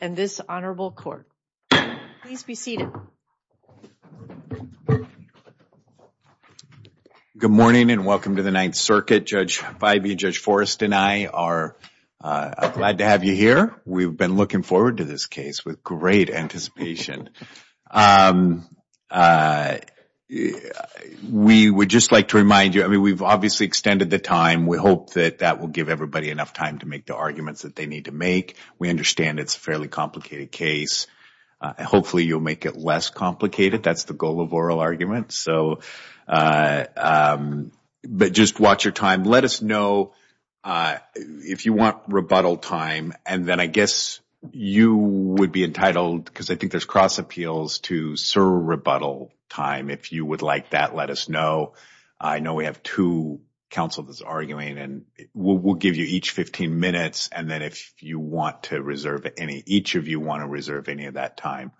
and this honorable court. Please be seated. Good morning and welcome to the Ninth Circuit. Judge Bybee, Judge Forrest, and I are glad to have you here. We've been looking forward to this case with great anticipation. We would just like to remind you, I mean we've obviously extended the time. We hope that that will give everybody enough time to make the arguments that they need to make. We understand it's a fairly complicated case. Hopefully, you'll make it less complicated. That's the goal of oral arguments. So, but just watch your time. Let us know if you want rebuttal time and then I guess you would be entitled, because I think there's cross appeals, to serve rebuttal time. If you would like that, let us know. I know we have two counsel that's arguing and we'll give you each 15 minutes and then if you want to reserve any, each of you want to reserve any of that time,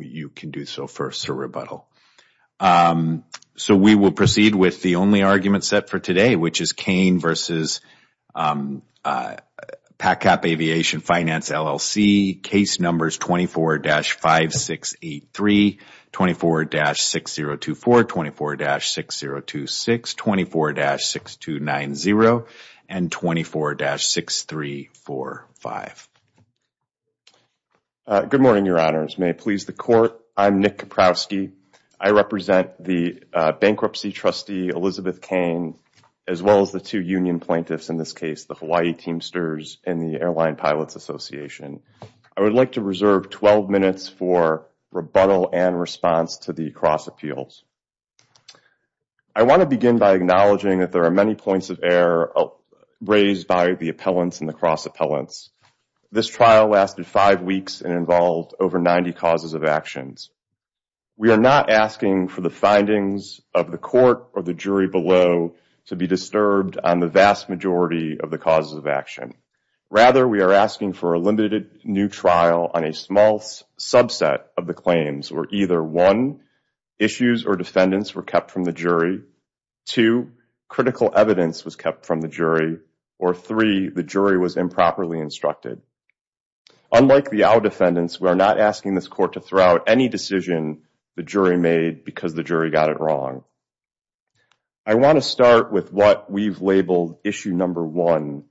you can do so first to rebuttal. So, we will proceed with the only argument set for today, which is Kane versus PaCap Aviation Finance LLC. Case numbers 24-5683, 24-6024, 24-6026, 24-6290, and 24-6345. Good morning, your honors. May it please the court, I'm Nick Kaprowski. I represent the bankruptcy trustee, Elizabeth Kane, as well as the two union plaintiffs, in this association. I would like to reserve 12 minutes for rebuttal and response to the cross appeals. I want to begin by acknowledging that there are many points of error raised by the appellants and the cross appellants. This trial lasted five weeks and involved over 90 causes of actions. We are not asking for the findings of the court or the jury below to be disturbed on the vast majority of the causes of action. Rather, we are asking for a limited new trial on a small subset of the claims where either, one, issues or defendants were kept from the jury, two, critical evidence was kept from the jury, or three, the jury was improperly instructed. Unlike the OWL defendants, we are not asking this court to throw out any decision the jury made because the jury got it wrong. I want to start with what we've labeled issue number one,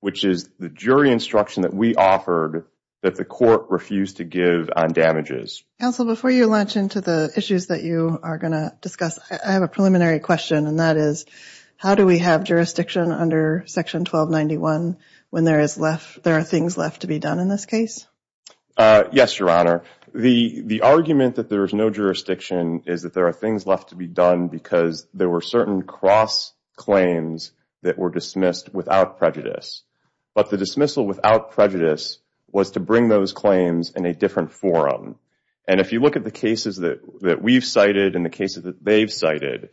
which is the jury instruction that we offered that the court refused to give on damages. Counsel, before you launch into the issues that you are going to discuss, I have a preliminary question, and that is, how do we have jurisdiction under section 1291 when there is less, there are things left to be done in this case? Yes, Your Honor. The the argument that there is no jurisdiction is that there are things left to be done because there were certain cross-claims that were dismissed without prejudice. But the dismissal without prejudice was to bring those claims in a different forum. And if you look at the cases that we've cited and the cases that they've cited,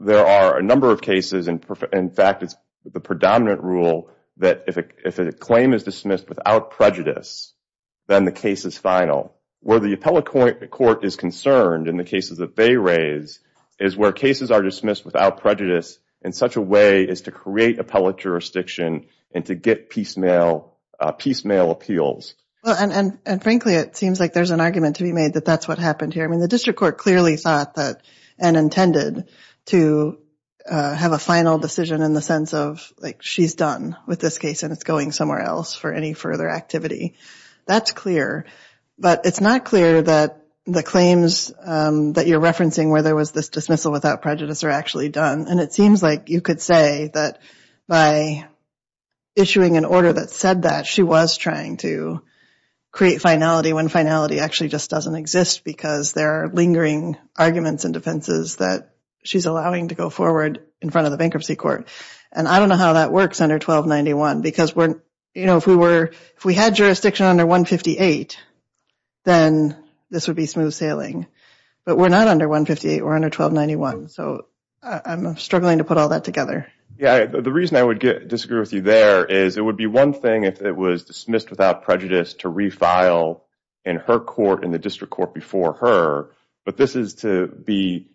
there are a number of cases, and in fact, it's the predominant rule that if a claim is dismissed without prejudice, then the case is final. Where the appellate court is concerned in the cases that they raised is where cases are dismissed without prejudice in such a way as to create appellate jurisdiction and to get piecemeal appeals. And frankly, it seems like there's an argument to be made that that's what happened here. I mean, the district court clearly thought that and intended to have a final decision in the sense of, like, she's done with this case and it's going somewhere else for any further activity. That's clear, but it's not clear that the claims that you're referencing where there was this dismissal without prejudice are actually done. And it seems like you could say that by issuing an order that said that, she was trying to create finality when finality actually just doesn't exist because there are lingering arguments and defenses that she's allowing to go forward in front of the bankruptcy court. And I don't know how that works under 1291 because we're, you know, if we were, if we had jurisdiction under 158, then this would be smooth sailing. But we're not under 158, we're under 1291, so I'm struggling to put all that together. Yeah, the reason I would disagree with you there is it would be one thing if it was dismissed without prejudice to refile in her court, in the district court before her, but this is to be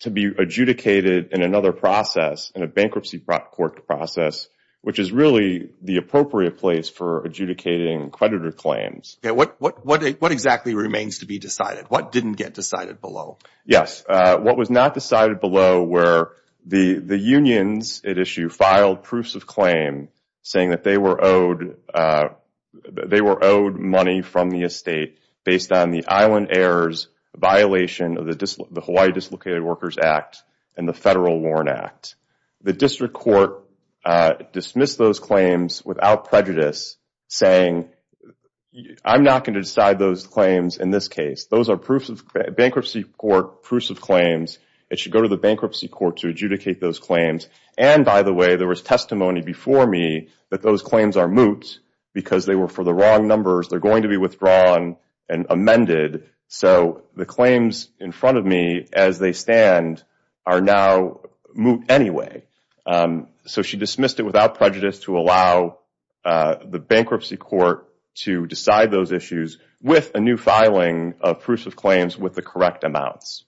to be adjudicated in another process, in a bankruptcy court process, which is really the appropriate place for adjudicating creditor claims. Yeah, what exactly remains to be decided? What didn't get decided below? Yes, what was not decided below where the unions at issue filed proofs of claim saying that they were owed money from the estate based on the Island Heirs violation of the Hawaii Dislocated Workers Act and the Warren Act. The district court dismissed those claims without prejudice, saying I'm not going to decide those claims in this case. Those are bankruptcy court proofs of claims. It should go to the bankruptcy court to adjudicate those claims. And by the way, there was testimony before me that those claims are moots because they were for the wrong numbers. They're going to be drawn and amended. So the claims in front of me as they stand are now moot anyway. So she dismissed it without prejudice to allow the bankruptcy court to decide those issues with a new filing of proofs of claims with the correct amounts.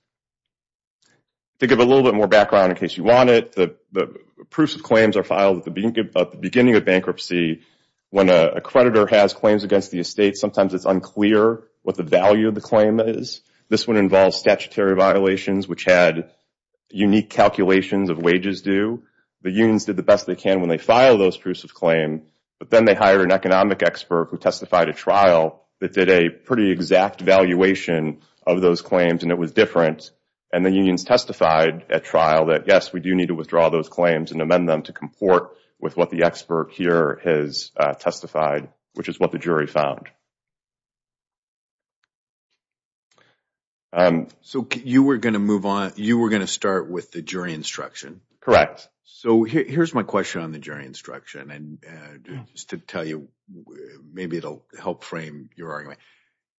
To give a little bit more background in case you want it, the proofs of claims are filed at the beginning of bankruptcy when a jury found unclear what the value of the claim is. This one involves statutory violations which had unique calculations of wages due. The unions did the best they can when they filed those proofs of claims, but then they hired an economic expert who testified at trial that did a pretty exact valuation of those claims and it was different. And the unions testified at trial that yes, we do need to withdraw those claims and amend them to comport with what the expert here has testified, which is what the jury found. So you were going to move on, you were going to start with the jury instruction. Correct. So here's my question on the jury instruction and just to tell you maybe it'll help frame your argument.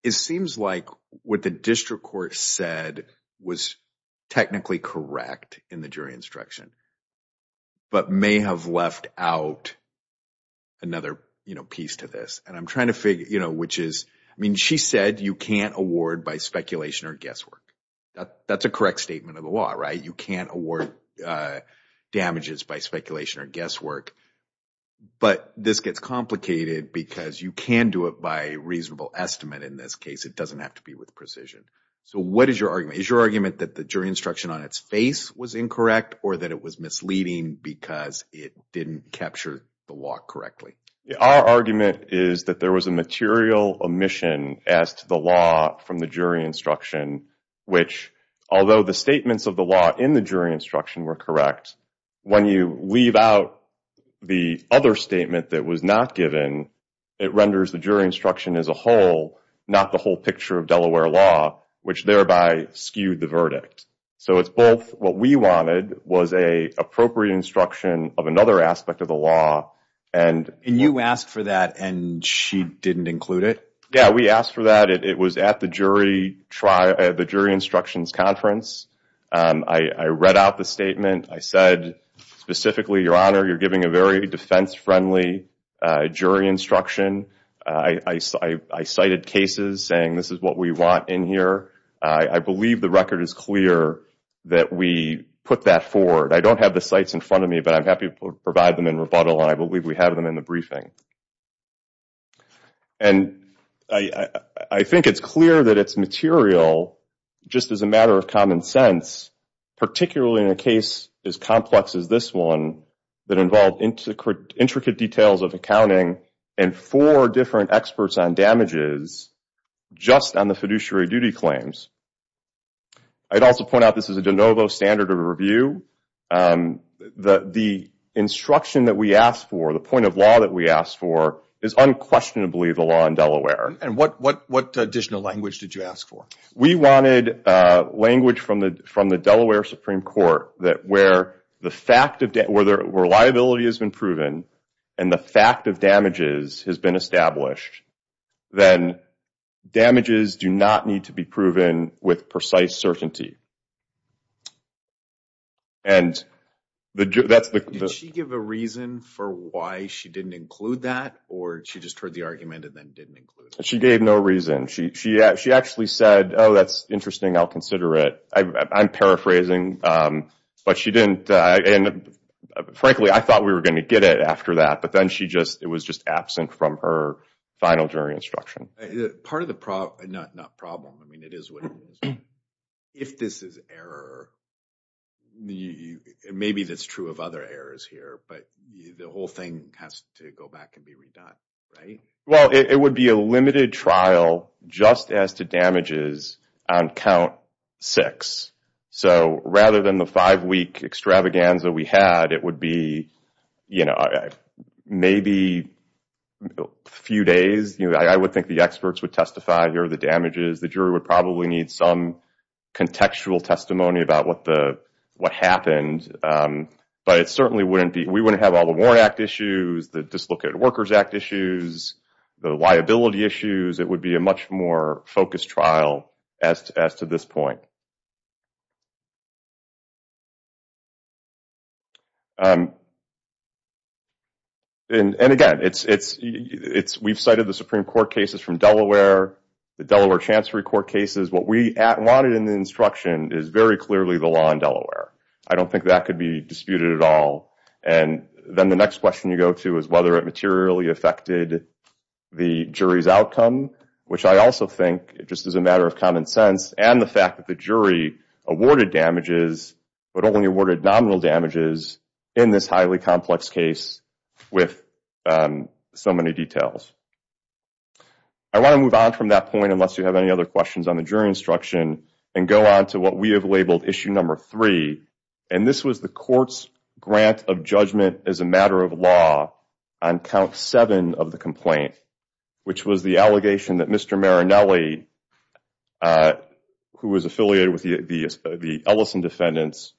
It seems like what the district court said was technically correct in the jury instruction, but may have left out an another, you know, piece to this. And I'm trying to figure, you know, which is, I mean, she said you can't award by speculation or guesswork. That's a correct statement of the law, right? You can't award damages by speculation or guesswork, but this gets complicated because you can do it by reasonable estimate in this case. It doesn't have to be with precision. So what is your argument? Is your argument that the jury instruction on its face was incorrect or that it was misleading because it didn't capture the law correctly? Our argument is that there was a material omission as to the law from the jury instruction, which although the statements of the law in the jury instruction were correct, when you leave out the other statement that was not given, it renders the jury instruction as a whole, not the whole picture of where law, which thereby skewed the verdict. So it's both what we wanted was a appropriate instruction of another aspect of the law and... And you asked for that and she didn't include it? Yeah, we asked for that. It was at the jury instructions conference. I read out the statement. I said specifically, Your Honor, you're giving a very defense-friendly jury instruction. I cited cases saying this is what we want in here. I believe the record is clear that we put that forward. I don't have the sites in front of me, but I'm happy to provide them in rebuttal and I believe we have them in the briefing. And I think it's clear that it's material just as a matter of common sense, particularly in a case as complex as this one that involved intricate details of accounting and four different experts on damages just on the fiduciary duty claims. I'd also point out this is a de novo standard of review. The instruction that we asked for, the point of law that we asked for, is unquestionably the law in Delaware. And what additional language did you ask for? We wanted language from the Delaware Supreme Court that where the fact of... Where liability has been proven and the fact of damages has been established, then damages do not need to be proven with precise certainty. And... Did she give a reason for why she didn't include that or she just heard the argument and then didn't include it? She gave no reason. She actually said, Oh, that's interesting. I'll consider it. I'm after that. But then she just... It was just absent from her final jury instruction. Part of the problem... Not problem. I mean, it is what it is. If this is error, maybe that's true of other errors here, but the whole thing has to go back and be redone, right? Well, it would be a limited trial just as to damages on count six. So rather than the five-week extravaganza we had, it would be, you know, maybe a few days. You know, I would think the experts would testify here, the damages. The jury would probably need some contextual testimony about what the... What happened. But it certainly wouldn't be... We wouldn't have all the Warren Act issues, the Dislocated Workers Act issues, the liability issues. It would be a much more focused trial as to this point. And again, it's... We've cited the Supreme Court cases from Delaware, the Delaware Chancery Court cases. What we wanted in the instruction is very clearly the law in Delaware. I don't think that could be disputed at all. And then the next question you go to is whether it materially affected the jury's outcome, which I also think it just is a matter of common sense, and the fact that the jury awarded damages, but only awarded nominal damages in this highly complex case with so many details. I want to move on from that point, unless you have any other questions on the jury instruction, and go on to what we have labeled issue number three. And this was the court's grant of judgment as a matter of law on count seven of the complaint, which was the allegation that Mr. Marinelli, who was affiliated with the Ellison defendants,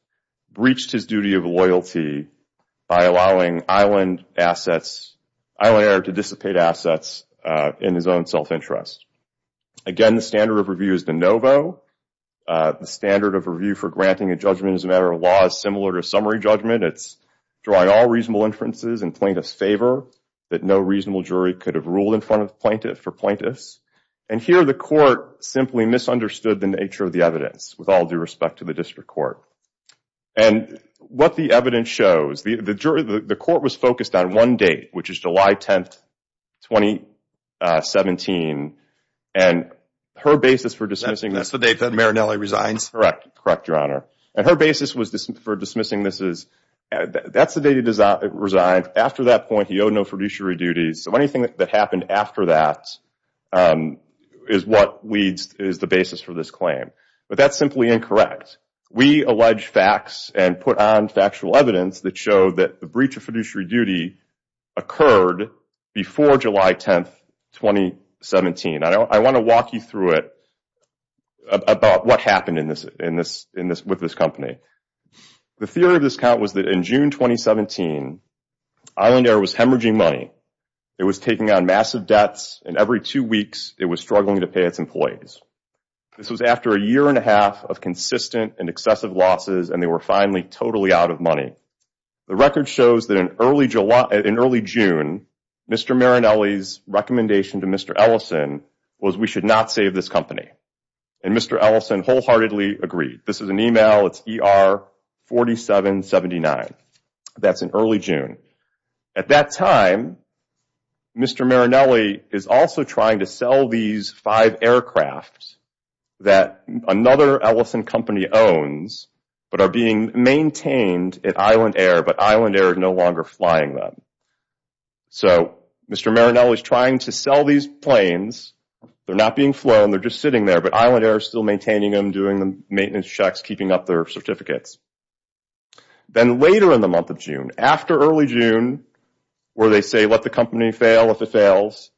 breached his duty of loyalty by allowing Island assets... Islander to dissipate assets in his own self-interest. Again, the standard of review is the NOVO. The standard of review for granting a judgment as a summary judgment. It's drawing all reasonable inferences and plaintiff's favor that no reasonable jury could have ruled in front of plaintiff for plaintiffs. And here the court simply misunderstood the nature of the evidence with all due respect to the district court. And what the evidence shows, the jury, the court was focused on one date, which is July 10th, 2017, and her basis for dismissing... That's the date that Marinelli resigns. Correct. Correct, your dismissing this is... That's the date he resigned. After that point, he owed no fiduciary duties. So anything that happened after that is what we... is the basis for this claim. But that's simply incorrect. We allege facts and put on factual evidence that showed that the breach of fiduciary duty occurred before July 10th, 2017. I want to walk you through it about what happened in this... with this company. The theory of this count was that in June 2017, Island Air was hemorrhaging money. It was taking on massive debts, and every two weeks it was struggling to pay its employees. This was after a year and a half of consistent and excessive losses, and they were finally totally out of money. The record shows that in early July... in early June, Mr. Marinelli's recommendation to Mr. Ellison was we should not save this company. And Mr. Ellison wholeheartedly agreed. This is an email. It's ER 4779. That's in early June. At that time, Mr. Marinelli is also trying to sell these five aircrafts that another Ellison company owns, but are being maintained at Island Air, but Island Air is no longer flying them. So Mr. Marinelli is trying to sell these planes. They're not being flown. They're just sitting there, but Island Air is still maintaining them, doing the maintenance checks, keeping up their certificates. Then later in the month of June, after early June, where they say let the company fail if it fails,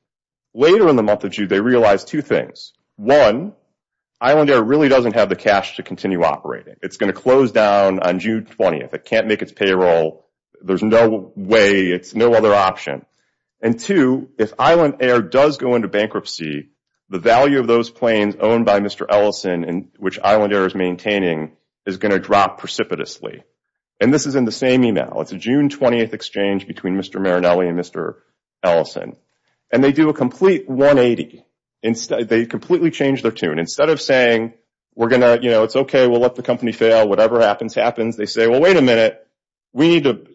later in the month of June, they realized two things. One, Island Air really doesn't have the cash to continue operating. It's going to close down on June 20th. It can't make its payroll. There's no way. It's no other option. And two, if Island Air does go into bankruptcy, the value of those planes owned by Mr. Ellison, which Island Air is maintaining, is going to drop precipitously. And this is in the same email. It's a June 20th exchange between Mr. Marinelli and Mr. Ellison. And they do a complete 180. They completely change their tune. Instead of saying, it's okay, we'll let the company fail. Whatever happens, happens. They say, well, wait a minute. We need to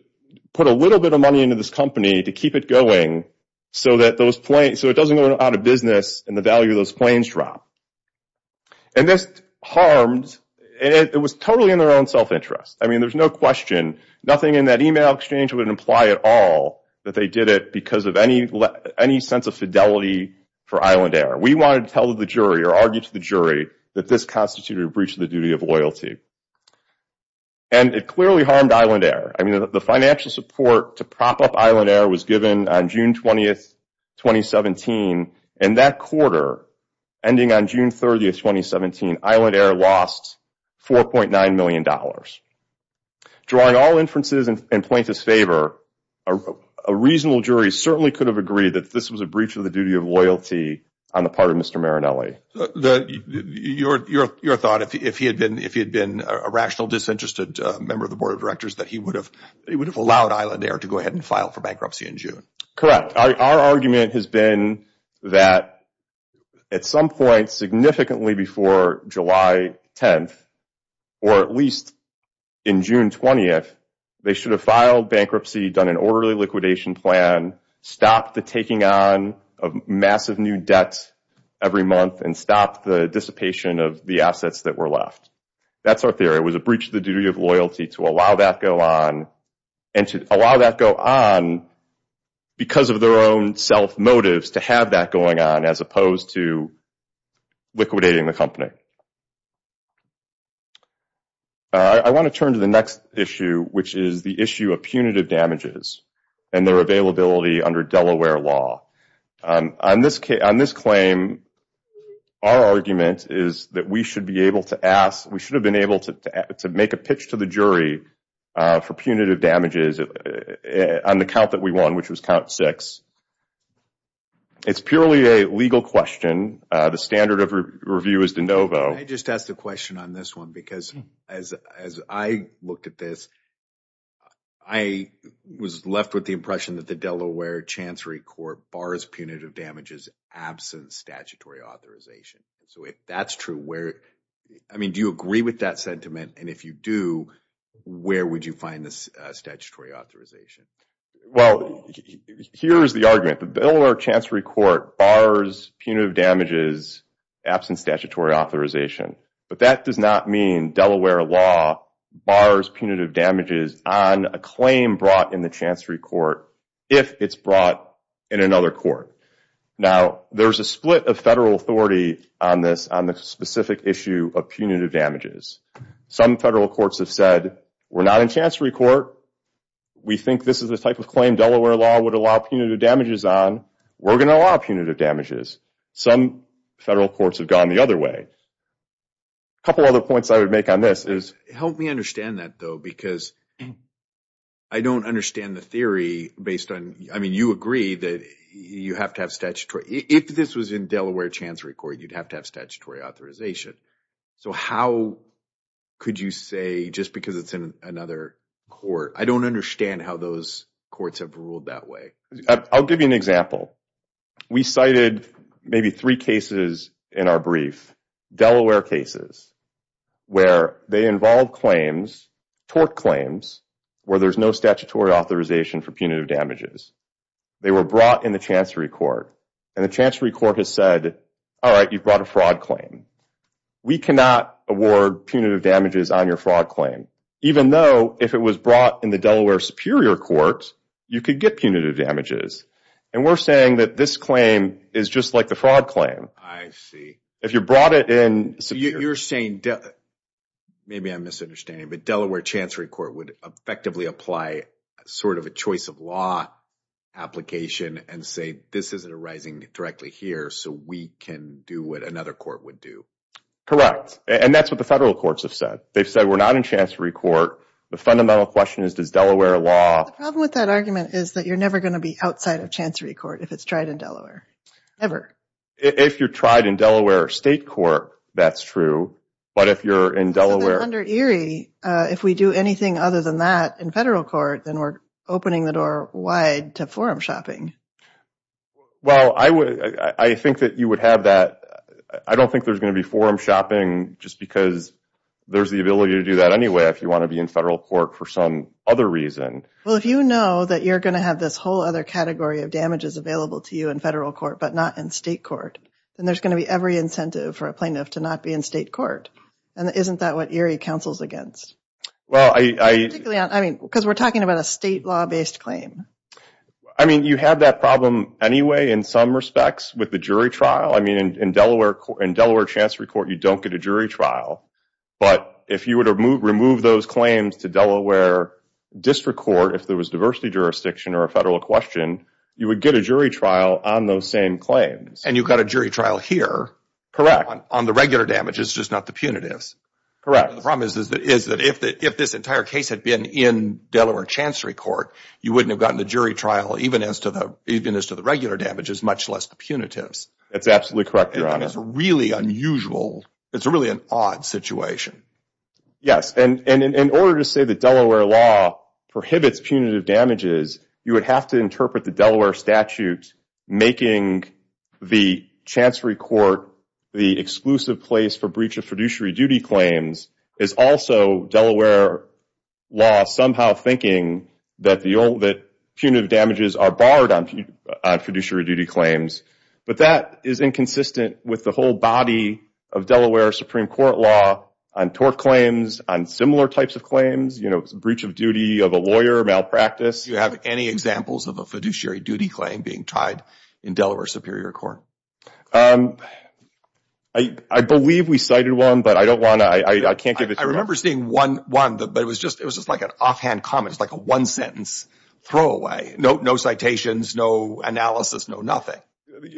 put a little bit of money into this company to keep it going so it doesn't go out of business and the value of those planes drop. And this harmed, it was totally in their own self-interest. I mean, there's no question, nothing in that email exchange would imply at all that they did it because of any sense of fidelity for Island Air. We wanted to tell the jury or argue to the jury that this constituted a breach of the duty of loyalty. And it clearly harmed Island Air. I mean, the financial support to prop up Island Air was given on June 20th, 2017. And that quarter, ending on June 30th, 2017, Island Air lost $4.9 million. Drawing all inferences and points of favor, a reasonable jury certainly could have agreed that this was a breach of the duty of loyalty on the part of Mr. Marinelli. Your thought, if he had been a rational disinterested member of the board of directors, that he would have allowed Island Air to go ahead and file for bankruptcy in June? Correct. Our argument has been that at some point, significantly before July 10th, or at least in June 20th, they should have filed bankruptcy, done an orderly liquidation plan, stopped the taking on of massive new debts every month, and stopped the dissipation of the assets that were left. That's our theory. It was a breach of the duty of loyalty to allow that go on, and to allow that go on because of their own self motives to have that going on, as opposed to liquidating the company. I want to turn to the next issue, which is the issue of punitive damages and their availability under Delaware law. On this claim, our argument is that we should be able to ask, we should have been able to make a pitch to the jury for punitive damages on the count that we won, which was count six. It's purely a legal question. The standard of review is de novo. I just asked a question on this one, because as I looked at this, I was left with the impression that the Delaware Chancery Court bars punitive damages absence statutory authorization. So if that's true, where, I mean, do you agree with that sentiment, and if you do, where would you find this statutory authorization? Well, here's the argument. The Delaware Chancery Court bars punitive damages absence statutory authorization, but that does not mean Delaware law bars punitive damages on a claim brought in the Chancery Court, if it's brought in another court. Now, there's a split of federal authority on this, on the punitive damages. Some federal courts have said, we're not in Chancery Court, we think this is a type of claim Delaware law would allow punitive damages on, we're gonna allow punitive damages. Some federal courts have gone the other way. A couple other points I would make on this is... Help me understand that, though, because I don't understand the theory based on, I mean, you agree that you have to have statutory, if this was in Delaware Chancery Court, you'd have to have statutory authorization. So how could you say, just because it's in another court, I don't understand how those courts have ruled that way. I'll give you an example. We cited maybe three cases in our brief, Delaware cases, where they involve claims, tort claims, where there's no statutory authorization for punitive damages. They were brought in the Chancery Court, and the Chancery Court has said, all right, you've brought a fraud claim. We cannot award punitive damages on your fraud claim, even though, if it was brought in the Delaware Superior Court, you could get punitive damages. And we're saying that this claim is just like the fraud claim. I see. If you brought it in... You're saying, maybe I'm misunderstanding, but Delaware Chancery Court would effectively apply sort of a choice-of-law application and say, this isn't arising directly here, so we can do what another court would do. Correct. And that's what the federal courts have said. They've said, we're not in Chancery Court. The fundamental question is, does Delaware law... The problem with that argument is that you're never going to be outside of Chancery Court if it's tried in Delaware. Ever. If you're tried in Delaware State Court, that's true. But if you're in Delaware... Under Erie, if we do anything other than that in federal court, then we're opening the door wide to forum shopping. Well, I would... I think that you would have that... I don't think there's going to be forum shopping just because there's the ability to do that anyway, if you want to be in federal court for some other reason. Well, if you know that you're going to have this whole other category of damages available to you in federal court, but not in state court, then there's going to be every incentive for a plaintiff to not be in state court. And isn't that what Erie counsels against? Well, I... Because we're talking about a state law-based claim. I mean, you have that problem anyway, in some respects, with the jury trial. I mean, in Delaware... In Delaware Chancery Court, you don't get a jury trial. But if you were to remove those claims to Delaware District Court, if there was diversity jurisdiction or a federal question, you would get a jury trial on those same claims. And you've got a jury trial here. Correct. On the regular damages, just not the punitives. Correct. The problem is that if this entire case had been in Delaware Chancery Court, you wouldn't have gotten a jury trial, even as to the regular damages, much less the punitives. That's absolutely correct, Your Honor. It's really unusual. It's really an odd situation. Yes. And in order to say that Delaware law prohibits punitive damages, you would have to interpret the Delaware statutes making the Chancery Court the exclusive place for breach of fiduciary duty claims. It's also Delaware law somehow thinking that punitive damages are barred on fiduciary duty claims. But that is inconsistent with the whole body of Delaware Supreme Court law on tort claims, on similar types of claims. You know, it's a breach of duty of a lawyer, malpractice. Do you have any examples of a fiduciary duty claim being tried in Delaware Superior Court? I believe we cited one, but I don't want to. I can't give it to you. I remember seeing one, but it was just like an offhand comment, like a one-sentence throwaway. No citations, no analysis, no nothing.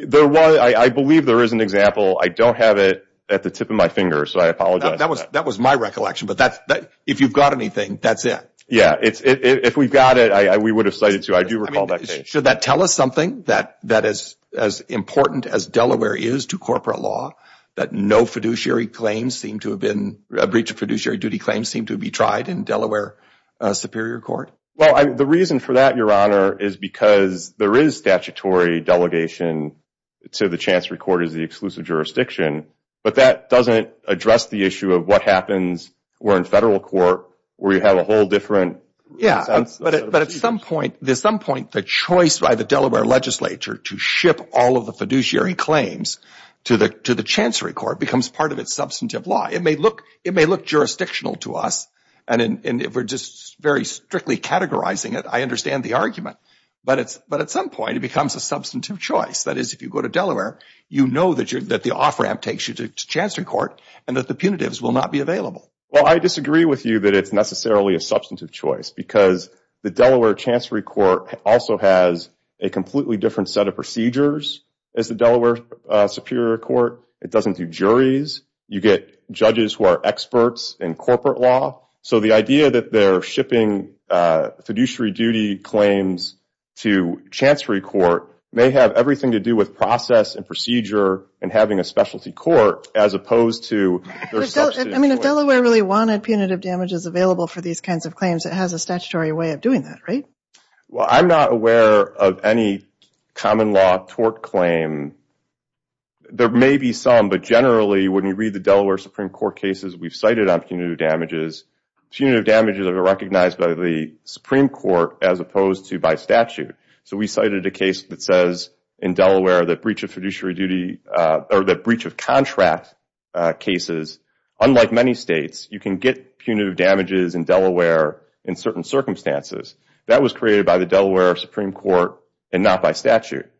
There was, I believe there is an example. I don't have it at the tip of my finger, so I apologize. That was my recollection, but if you've got anything, that's it. Yeah, if we got it, we would have cited two. I do recall that. Should that tell us something that is as important as Delaware is to corporate law, that no fiduciary claims seem to have been, a breach of fiduciary duty claims seem to be tried in Delaware Superior Court? Well, the reason for that, Your Honor, is because there is statutory delegation to the Chancery Court as the exclusive jurisdiction, but that doesn't address the issue of what happens where in federal court, where you have a whole different... Yeah, but at some point, at some point, the choice by the Delaware legislature to ship all of the fiduciary claims to the Chancery Court becomes part of its substantive law. It may look jurisdictional to us, and we're just very strictly categorizing it. I understand the argument, but at some point, it becomes a substantive choice. That is, if you go to Delaware, you know that the off-ramp takes you to Chancery Court, and that the punitives will not be available. Well, I disagree with you that it's necessarily a substantive choice, because the Delaware Chancery Court also has a completely different set of procedures as the Delaware Superior Court. It doesn't do juries. You get judges who are experts in corporate law, so the idea that they're shipping fiduciary duty claims to Chancery Court may have everything to do with process and procedure and having a specialty court, as opposed to... I mean, if Delaware really wanted punitive damages available for these kinds of claims, it has a statutory way of doing that, right? Well, I'm not aware of any common law tort claim. There may be some, but generally, when you read the Delaware Supreme Court cases, we've cited on punitive damages. Punitive damages are recognized by the Supreme Court, as opposed to by statute. So, we cited a case that says in Delaware that breach of fiduciary duty, or that breach of contract cases, unlike many states, you can get punitive damages in Delaware in certain circumstances. That was created by the Delaware Supreme Court and not by statute.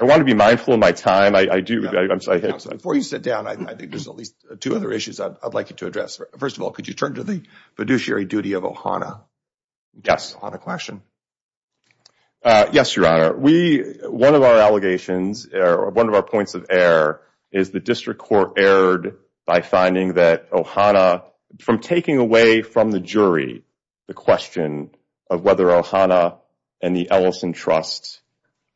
I want to be mindful of my time. I do... Before you sit down, I think there's at least two other issues I'd like you to address. First of all, could you turn to the fiduciary duty of OHANA? Yes, on a question. Yes, Your Honor. One of our allegations, or one of our points of error, is the district court erred by finding that OHANA, from taking away from the jury, the question of whether OHANA and the Ellison Trusts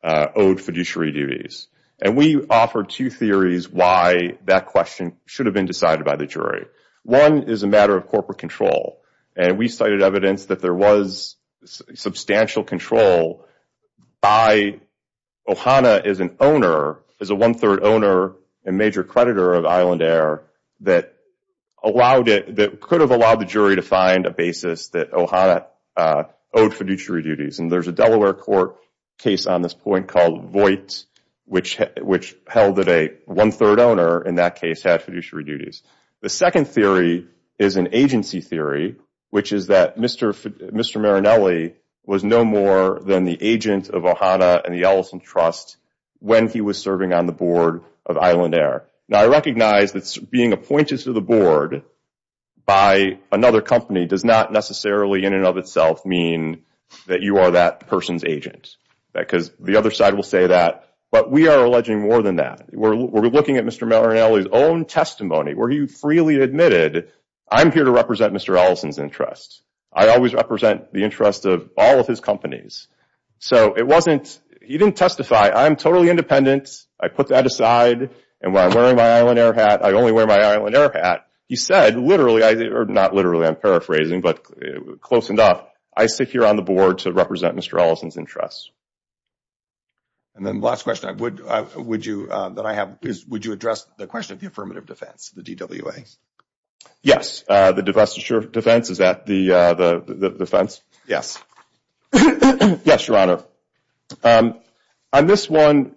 owed fiduciary duties. And we offer two theories why that question should have been decided by the jury. One is a matter of corporate control, and we cited evidence that there was substantial control by OHANA as an owner, as a one-third owner, a major creditor of Island Air, that allowed it, that could have allowed the jury to find a basis that OHANA owed fiduciary duties. And there's a Delaware court case on this point called Voight, which held that a one-third owner, in that case, had fiduciary duties. The second theory is an agency theory, which is that Mr. Marinelli was no more than the agent of OHANA and the Ellison Trust when he was serving on the board of Island Air. Now, I recognize that being appointed to the board by another company does not necessarily, in and of itself, mean that you are that person's agent, because the other side will say that. But we are more than that. We're looking at Mr. Marinelli's own testimony, where he freely admitted, I'm here to represent Mr. Ellison's interests. I always represent the interest of all of his companies. So it wasn't, he didn't testify, I'm totally independent, I put that aside, and when I'm wearing my Island Air hat, I only wear my Island Air hat. He said, literally, or not literally, I'm paraphrasing, but close enough, I sit here on the board to represent Mr. Ellison's interests. And then last question I would, would you, that I have, is, would you address the question of the affirmative defense, the DWA? Yes, the defense, is that the defense? Yes. Yes, Your Honor. On this one,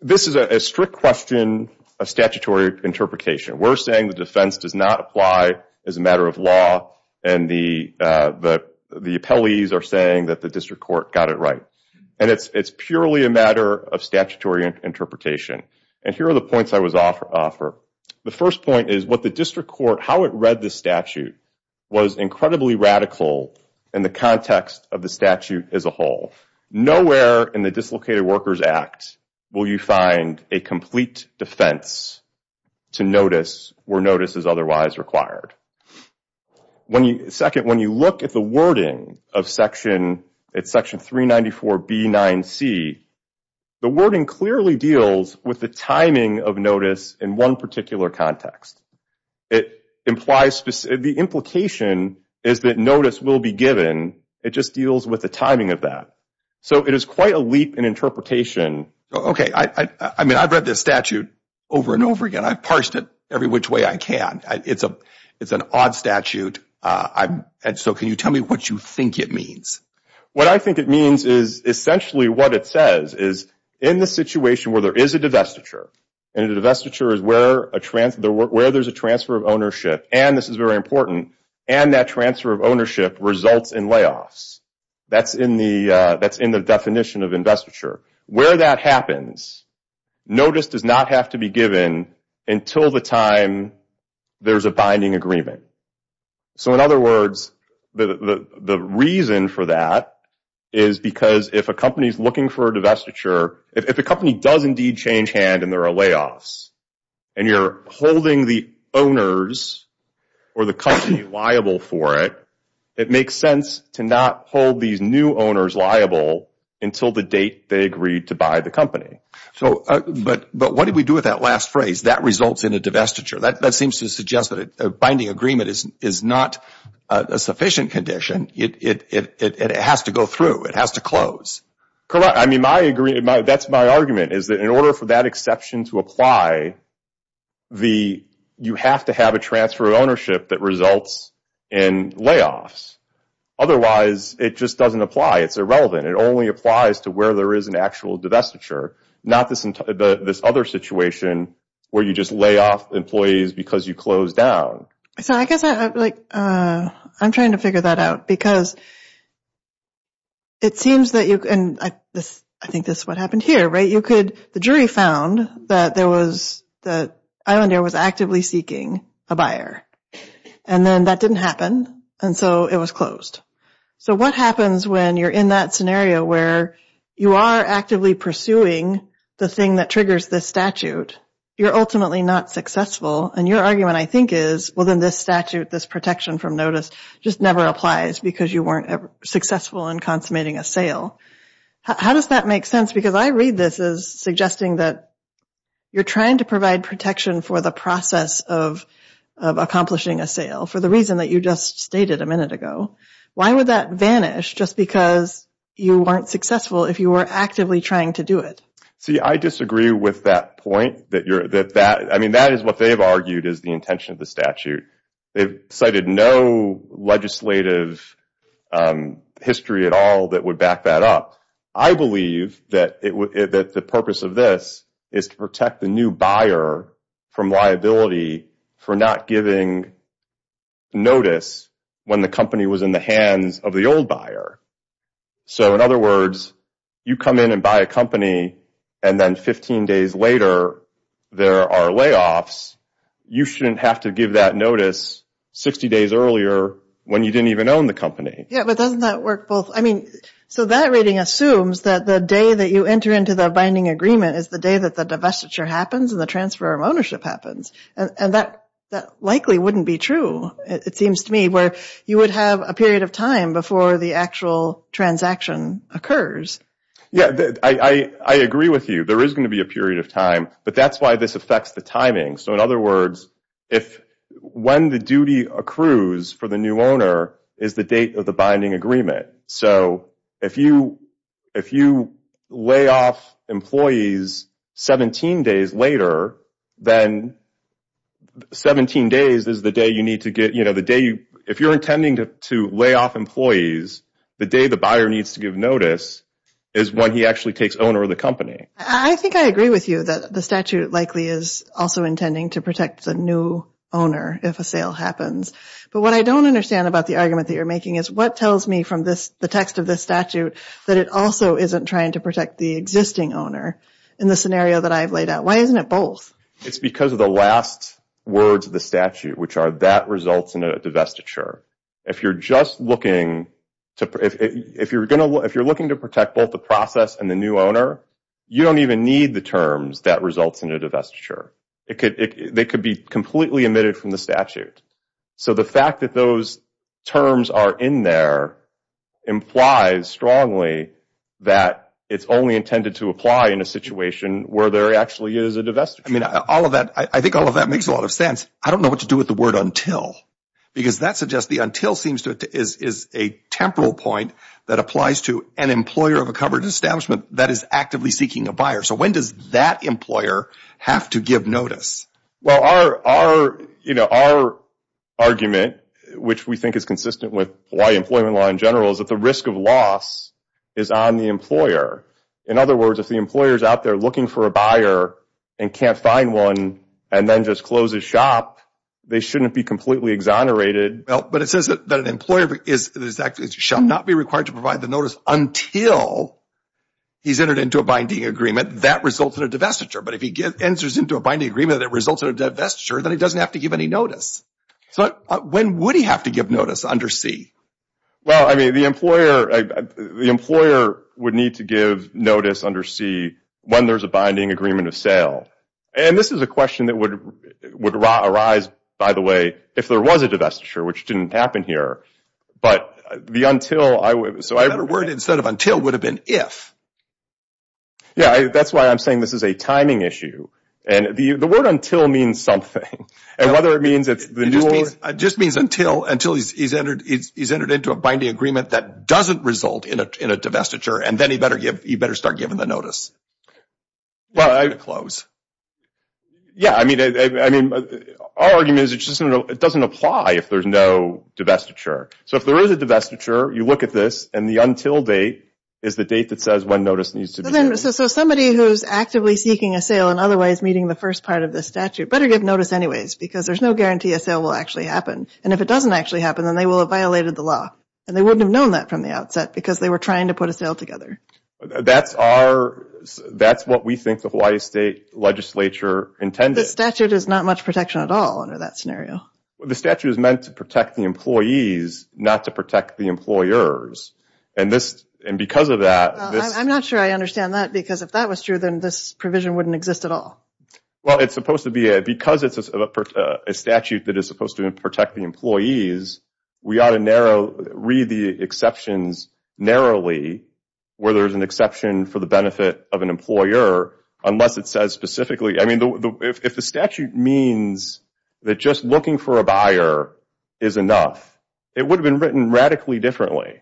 this is a strict question, a statutory interpretation. We're saying the defense does not apply as a matter of law, and the, the, the appellees are saying that the District Court got it right. And it's, it's purely a matter of statutory interpretation. And here are the points I would offer. The first point is, what the District Court, how it read the statute, was incredibly radical in the context of the statute as a whole. Nowhere in the Dislocated Workers Act will you find a complete defense to notice, where notice is otherwise required. When you, second, when you look at the wording of section, it's section 394 B 9 C, the wording clearly deals with the timing of notice in one particular context. It implies, the implication is that notice will be given, it just deals with the timing of that. So it is quite a leap in interpretation. Okay, I, I mean, I've read this statute over and over again. I've parsed it every which way I can. It's a, it's an odd statute. I, and so can you tell me what you think it means? What I think it means is, essentially what it says is, in the situation where there is a divestiture, and the divestiture is where a transfer, where there's a transfer of ownership, and this is very important, and that transfer of ownership results in layoffs. That's in the, that's in the definition of investiture. Where that happens, notice does not have to be given until the time there's a binding agreement. So in other words, the, the, the reason for that is because if a company's looking for a divestiture, if a company does indeed change hand and there are layoffs, and you're holding the owners or the company liable for it, it makes sense to not hold these new owners liable until the date they agreed to buy the company. So, but, but what did we do with that last phrase, that results in a divestiture? That seems to suggest that a binding agreement is not a sufficient condition. It has to go through. It has to close. Correct. I mean, my agree, that's my argument, is that in order for that exception to apply, the, you have to have a transfer of ownership that results in layoffs. Otherwise, it just doesn't apply. It's irrelevant. It only applies to where there is an actual divestiture, not this, this other situation where you just lay off employees because you closed down. So I guess, like, I'm trying to figure that out because it seems that you, and I think this is what happened here, right? You could, the jury found that there was, that Island Air was actively seeking a buyer, and then that didn't happen, and so it was closed. So what happens when you're in that scenario where you are actively pursuing the thing that triggers this statute? You're ultimately not successful, and your argument, I think, is, well, then this statute, this protection from notice, just never applies because you weren't successful in consummating a sale. How does that make sense? Because I read this as suggesting that you're trying to provide protection for the process of accomplishing a sale for the reason that you just stated a minute ago. Why would that vanish just because you weren't successful if you were actively trying to do it? See, I disagree with that point that you're, that, I mean, that is what they've argued is the intention of the statute. They've cited no legislative history at all that would back that up. I believe that the purpose of this is to protect the new from liability for not giving notice when the company was in the hands of the old buyer. So in other words, you come in and buy a company, and then 15 days later there are layoffs. You shouldn't have to give that notice 60 days earlier when you didn't even own the company. Yeah, but doesn't that work both, I mean, so that really assumes that the day that you enter into the binding agreement is the day that the divestiture happens and the transfer of ownership happens. And that likely wouldn't be true, it seems to me, where you would have a period of time before the actual transaction occurs. Yeah, I agree with you. There is going to be a period of time, but that's why this affects the timing. So in other words, if when the duty accrues for the new owner is the date of the binding agreement. So if you lay off employees 17 days later, then 17 days is the day you need to get, you know, the day you, if you're intending to lay off employees, the day the buyer needs to give notice is when he actually takes owner of the company. I think I agree with you that the statute likely is also intending to protect the new owner if a sale happens. But what I don't understand about the argument that you're making in this statute, that it also isn't trying to protect the existing owner in the scenario that I've laid out. Why isn't it both? It's because of the last words of the statute, which are that results in a divestiture. If you're just looking to, if you're going to, if you're looking to protect both the process and the new owner, you don't even need the terms that results in a divestiture. It could, they could be completely omitted from the statute. So the fact that those terms are in there implies strongly that it's only intended to apply in a situation where there actually is a divestiture. I mean, all of that, I think all of that makes a lot of sense. I don't know what to do with the word until, because that suggests the until seems to, is a temporal point that applies to an employer of a coverage establishment that is actively seeking a buyer. So when does that employer have to give notice? Well, our, you know, our argument, which we think is consistent with Hawaii employment law in general, is that the risk of loss is on the employer. In other words, if the employer is out there looking for a buyer and can't find one and then just closes shop, they shouldn't be completely exonerated. Well, but it says that an employer is, is actually, shall not be required to provide the notice until he's entered into a binding agreement. That results in a divestiture. But if he gives, enters into a binding agreement that results in a divestiture, then he doesn't have to give any notice. But when would he have to give notice under C? Well, I mean, the employer, the employer would need to give notice under C when there's a binding agreement of sale. And this is a question that would, would arise, by the way, if there was a divestiture, which didn't happen here. But the until I would, so I have a word instead of until would have been if. Yeah, that's why I'm saying this is a timing issue. And the word until means something. And whether it means that the just means until, until he's entered, he's entered into a binding agreement that doesn't result in a, in a divestiture. And then he better give, he better start giving the notice. Well, I close. Yeah, I mean, I mean, our argument is it just doesn't apply if there's no divestiture. So if there is a divestiture, you look at this and the until date is the date that says when notice needs to be. So somebody who's actively seeking a sale and otherwise meeting the first part of the statute better give notice anyways, because there's no guarantee a sale will actually happen. And if it doesn't actually happen, then they will have violated the law. And they wouldn't have known that from the outset because they were trying to put a sale together. That's our, that's what we think the Hawaii State Legislature intended. The statute is not much protection at all under that scenario. The statute is meant to protect the employees, not to protect the employers. And this, and because of that, I'm not sure I understand that. Because if that was true, then this provision wouldn't exist at all. Well, it's supposed to be a, because it's a statute that is supposed to protect the employees, we ought to narrow, read the exceptions narrowly, where there's an exception for the benefit of an employer, unless it says specifically, I mean, if the statute means that just looking for a buyer is enough, it would have been written radically differently.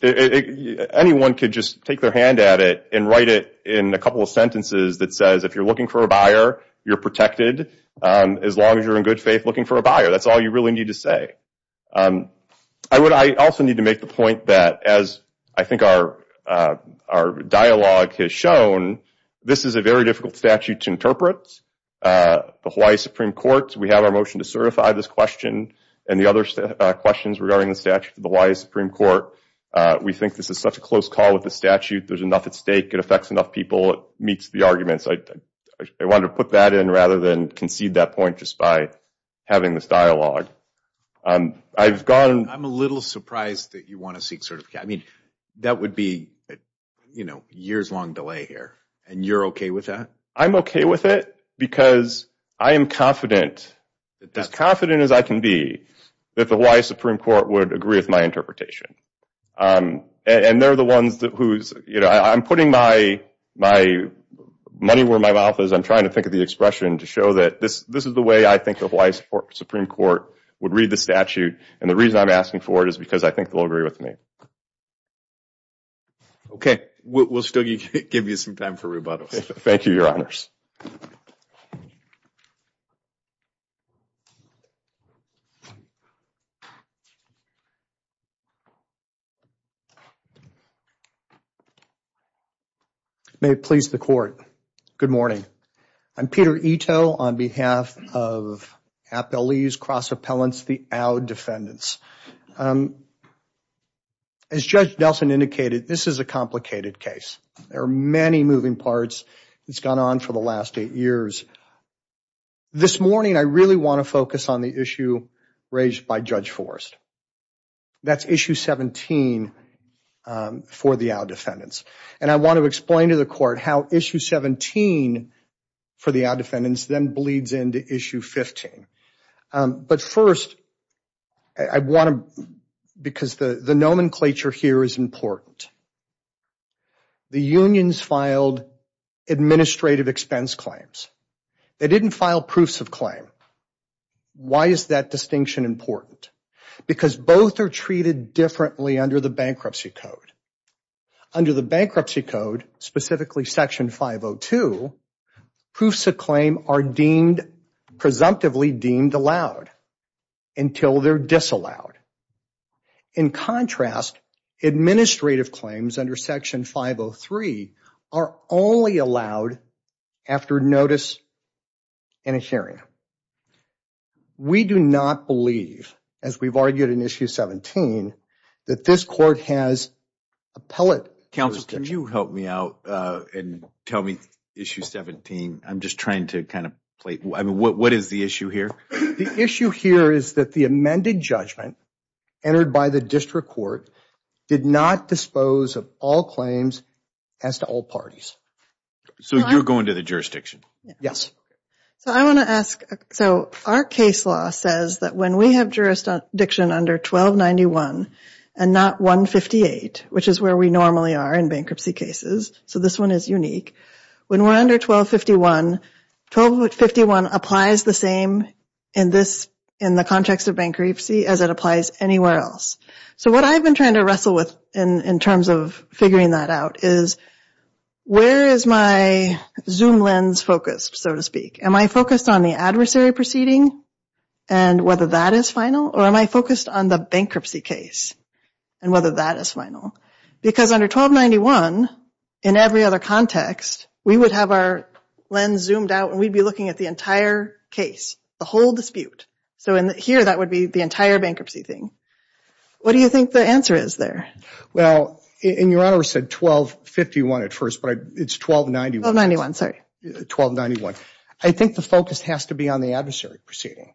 Anyone could just take their hand at it and write it in a couple of sentences that says, if you're looking for a buyer, you're protected. As long as you're in good faith looking for a buyer, that's all you really need to say. I would, I also need to make the point that as I think our, our dialogue has shown, this is a very difficult statute to interpret. The Hawaii Supreme Court, we have our motion to certify this question and the other questions regarding the statute of the Hawaii Supreme Court. We think this is such a close call with the statute, there's enough at stake, it affects enough people, it meets the arguments. I wanted to put that in rather than concede that point just by having this dialogue. I've gone, I'm a little surprised that you want to seek certification. I mean, that would be, you know, years long delay here. And you're okay with that? I'm okay with it, because I am confident, as confident as I can be, that the Hawaii Supreme Court would agree with my interpretation. And they're the ones that, who's, you know, I'm putting my, my money where my mouth is. I'm trying to think of the expression to show that this, this is the way I think the Hawaii Supreme Court would read the statute. And the reason I'm asking for it is because I think they'll agree with me. Okay, we'll still give you some time for rebuttal. Thank you, Your Honors. May it please the court. Good morning. I'm Peter Ito on behalf of Appellee's Cross-Appellants, the OWD defendants. As Judge Nelson indicated, this is a complicated case. There are many moving parts. It's gone on for the last eight years. This morning, I really want to focus on the issue raised by Judge Forrest. That's Issue 17 for the OWD defendants. And I want to explain to the court how Issue 17 for the OWD defendants then bleeds into Issue 15. But first, I want to, because the, the nomenclature here is important. The unions filed administrative expense claims. They didn't file proofs of claim. Why is that distinction important? Because both are treated differently under the Bankruptcy Code. Under the Bankruptcy Code, specifically Section 502, proofs of claim are deemed, presumptively deemed allowed until they're disallowed. In contrast, administrative claims under Section 503 are only allowed after notice and hearing. We do not believe, as we've argued in Issue 17, that this court has appellate... Counselor, can you help me out and tell me Issue 17? I'm just trying to kind of, like, what is the issue here? The issue here is that the amended judgment entered by the District Court did not dispose of all claims as to all parties. So you're going to the jurisdiction? Yes. So I want to ask, so our case law says that when we have jurisdiction under 1291 and not 158, which is where we normally are in bankruptcy cases, so this one is unique, when we're under 1251, 1251 applies the same in this, in the context of bankruptcy as it applies anywhere else. So what I've been trying to in terms of figuring that out is, where is my zoom lens focused, so to speak? Am I focused on the adversary proceeding and whether that is final, or am I focused on the bankruptcy case and whether that is final? Because under 1291, in every other context, we would have our lens zoomed out and we'd be looking at the entire case, the whole dispute. So in here, that would be the entire bankruptcy thing. What do you think the answer is there? Well, and your Honor said 1251 at first, but it's 1291. 1291, sorry. 1291. I think the focus has to be on the adversary proceeding.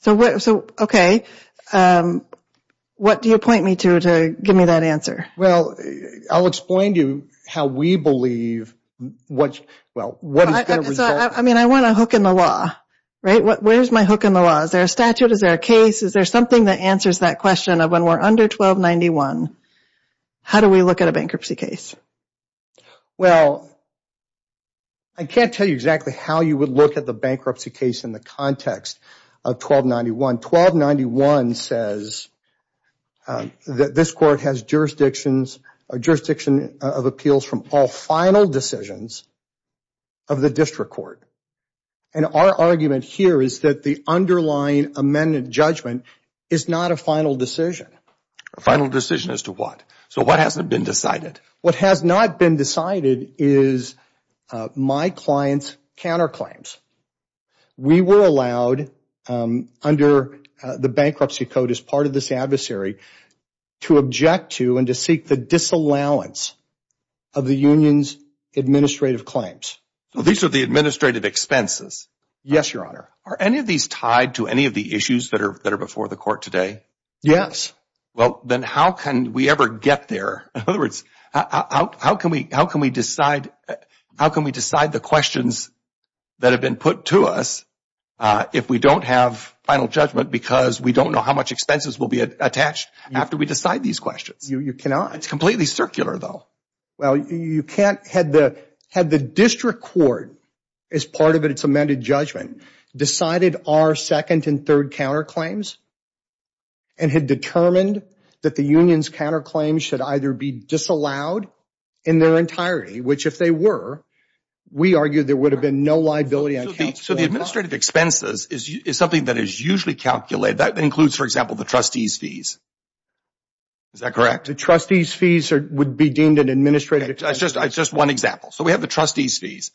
So, okay, what do you point me to to give me that answer? Well, I'll explain to you how we believe what's, well, what is the result? I mean, I want a hook in the law, right? Where's my hook in the law? Is there a statute? Is there a case? Is there something that answers that question of when we're under 1291, how do we look at a bankruptcy case? Well, I can't tell you exactly how you would look at the bankruptcy case in the context of 1291. 1291 says that this court has jurisdictions, a jurisdiction of appeals from all final decisions of the district court. And our argument here is that the underlying amendment judgment is not a final decision. A final decision as to what? So what hasn't been decided? What has not been decided is my client's counterclaims. We were allowed under the bankruptcy code as part of this adversary to object to and to seek the disallowance of the union's administrative claims. So these are the expenses. Yes, your honor. Are any of these tied to any of the issues that are before the court today? Yes. Well, then how can we ever get there? In other words, how can we decide the questions that have been put to us if we don't have final judgment because we don't know how much expenses will be attached after we decide these questions? You cannot. It's completely circular though. Well, you can't. Had the district court as part of its amended judgment decided our second and third counterclaims and had determined that the union's counterclaims should either be disallowed in their entirety, which if they were, we argued there would have been no liability. So the administrative expenses is something that is usually calculated. That includes, for example, the trustee's fees. Is that correct? The trustee's fees would be deemed an administrative... It's just one example. So we have the trustee's fees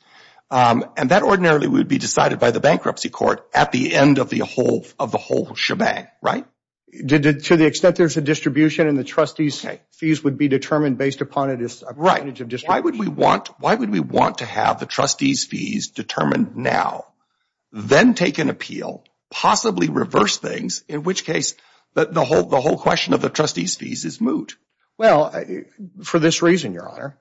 and that ordinarily would be decided by the bankruptcy court at the end of the whole shebang, right? To the extent there's a distribution and the trustee's fees would be determined based upon a variety of... Why would we want to have the trustee's fees determined now, then take an appeal, possibly reverse things, in which case the whole question of the trustee's fees is moot. Well, for this reason, your honor,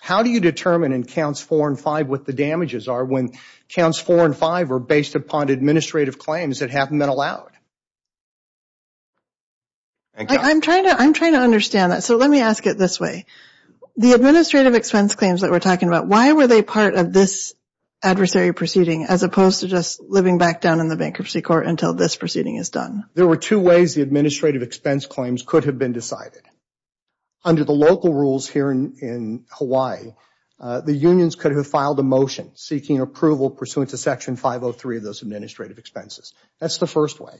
how do you determine in counts four and five what the damages are when counts four and five are based upon administrative claims that haven't been allowed? I'm trying to understand that. So let me ask it this way. The administrative expense claims that we're talking about, why were they part of this adversary proceeding as opposed to just living back down in the bankruptcy court until this proceeding is done? There were two ways the administrative expense claims could have been decided. Under the local rules here in Hawaii, the unions could have filed a motion seeking approval pursuant to section 503 of those administrative expenses. That's the first way.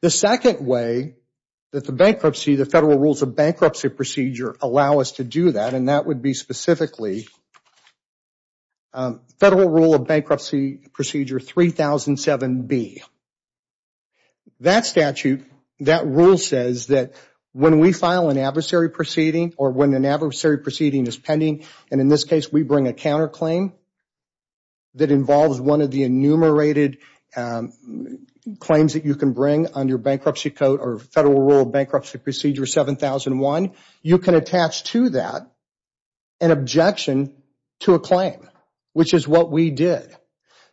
The second way that the bankruptcy, the federal rules of bankruptcy procedure, allow us to do that, and that would be specifically Federal Rule of Bankruptcy Procedure 3007B. That statute, that rule says that when we file an adversary proceeding or when an adversary proceeding is pending, and in this case we bring a counterclaim that involves one of the enumerated claims that you can bring under bankruptcy code or Federal Rule of Bankruptcy Procedure 7001, you can attach to that an objection to a claim, which is what we did.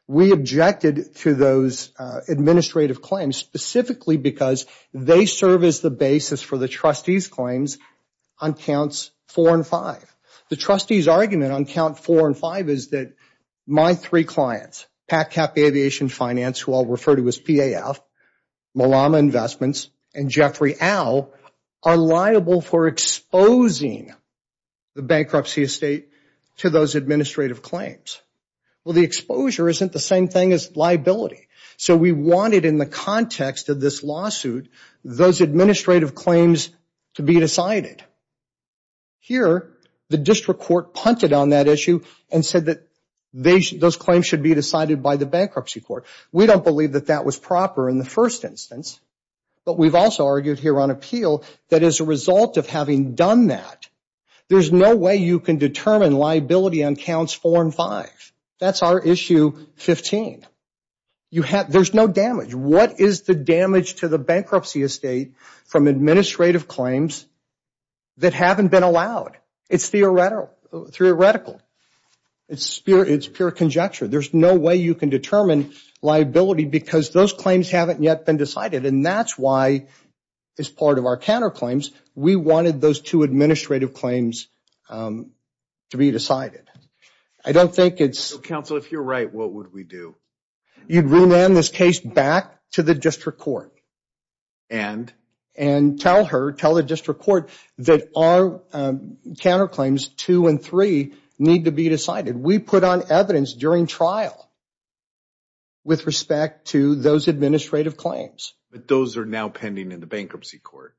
We objected to those administrative claims specifically because they serve as the basis for the trustees' claims on counts four and five. The trustees' argument on count four and five is that my three clients, PacCap Aviation Finance, who I'll refer to as PAF, Malama Investments, and Jeffrey Al, are liable for exposing the bankruptcy estate to those administrative claims. Well, the exposure isn't the same thing as liability. So, we wanted in the context of this lawsuit those administrative claims to be decided. Here, the district court punted on that issue and said that those claims should be decided by the bankruptcy court. We don't believe that that was proper in the first instance, but we've also argued here on appeal that as a result of having done that, there's no way you can determine liability on counts four and five. That's our issue 15. There's no damage. What is the damage to the bankruptcy estate from administrative claims that haven't been allowed? It's theoretical. It's pure conjecture. There's no way you can liability because those claims haven't yet been decided, and that's why, as part of our counterclaims, we wanted those two administrative claims to be decided. I don't think it's... Counselor, if you're right, what would we do? You'd remand this case back to the district court. And? And tell her, tell the district court that our counterclaims two and three need to be decided. We put on evidence during trial with respect to those administrative claims. But those are now pending in the bankruptcy court.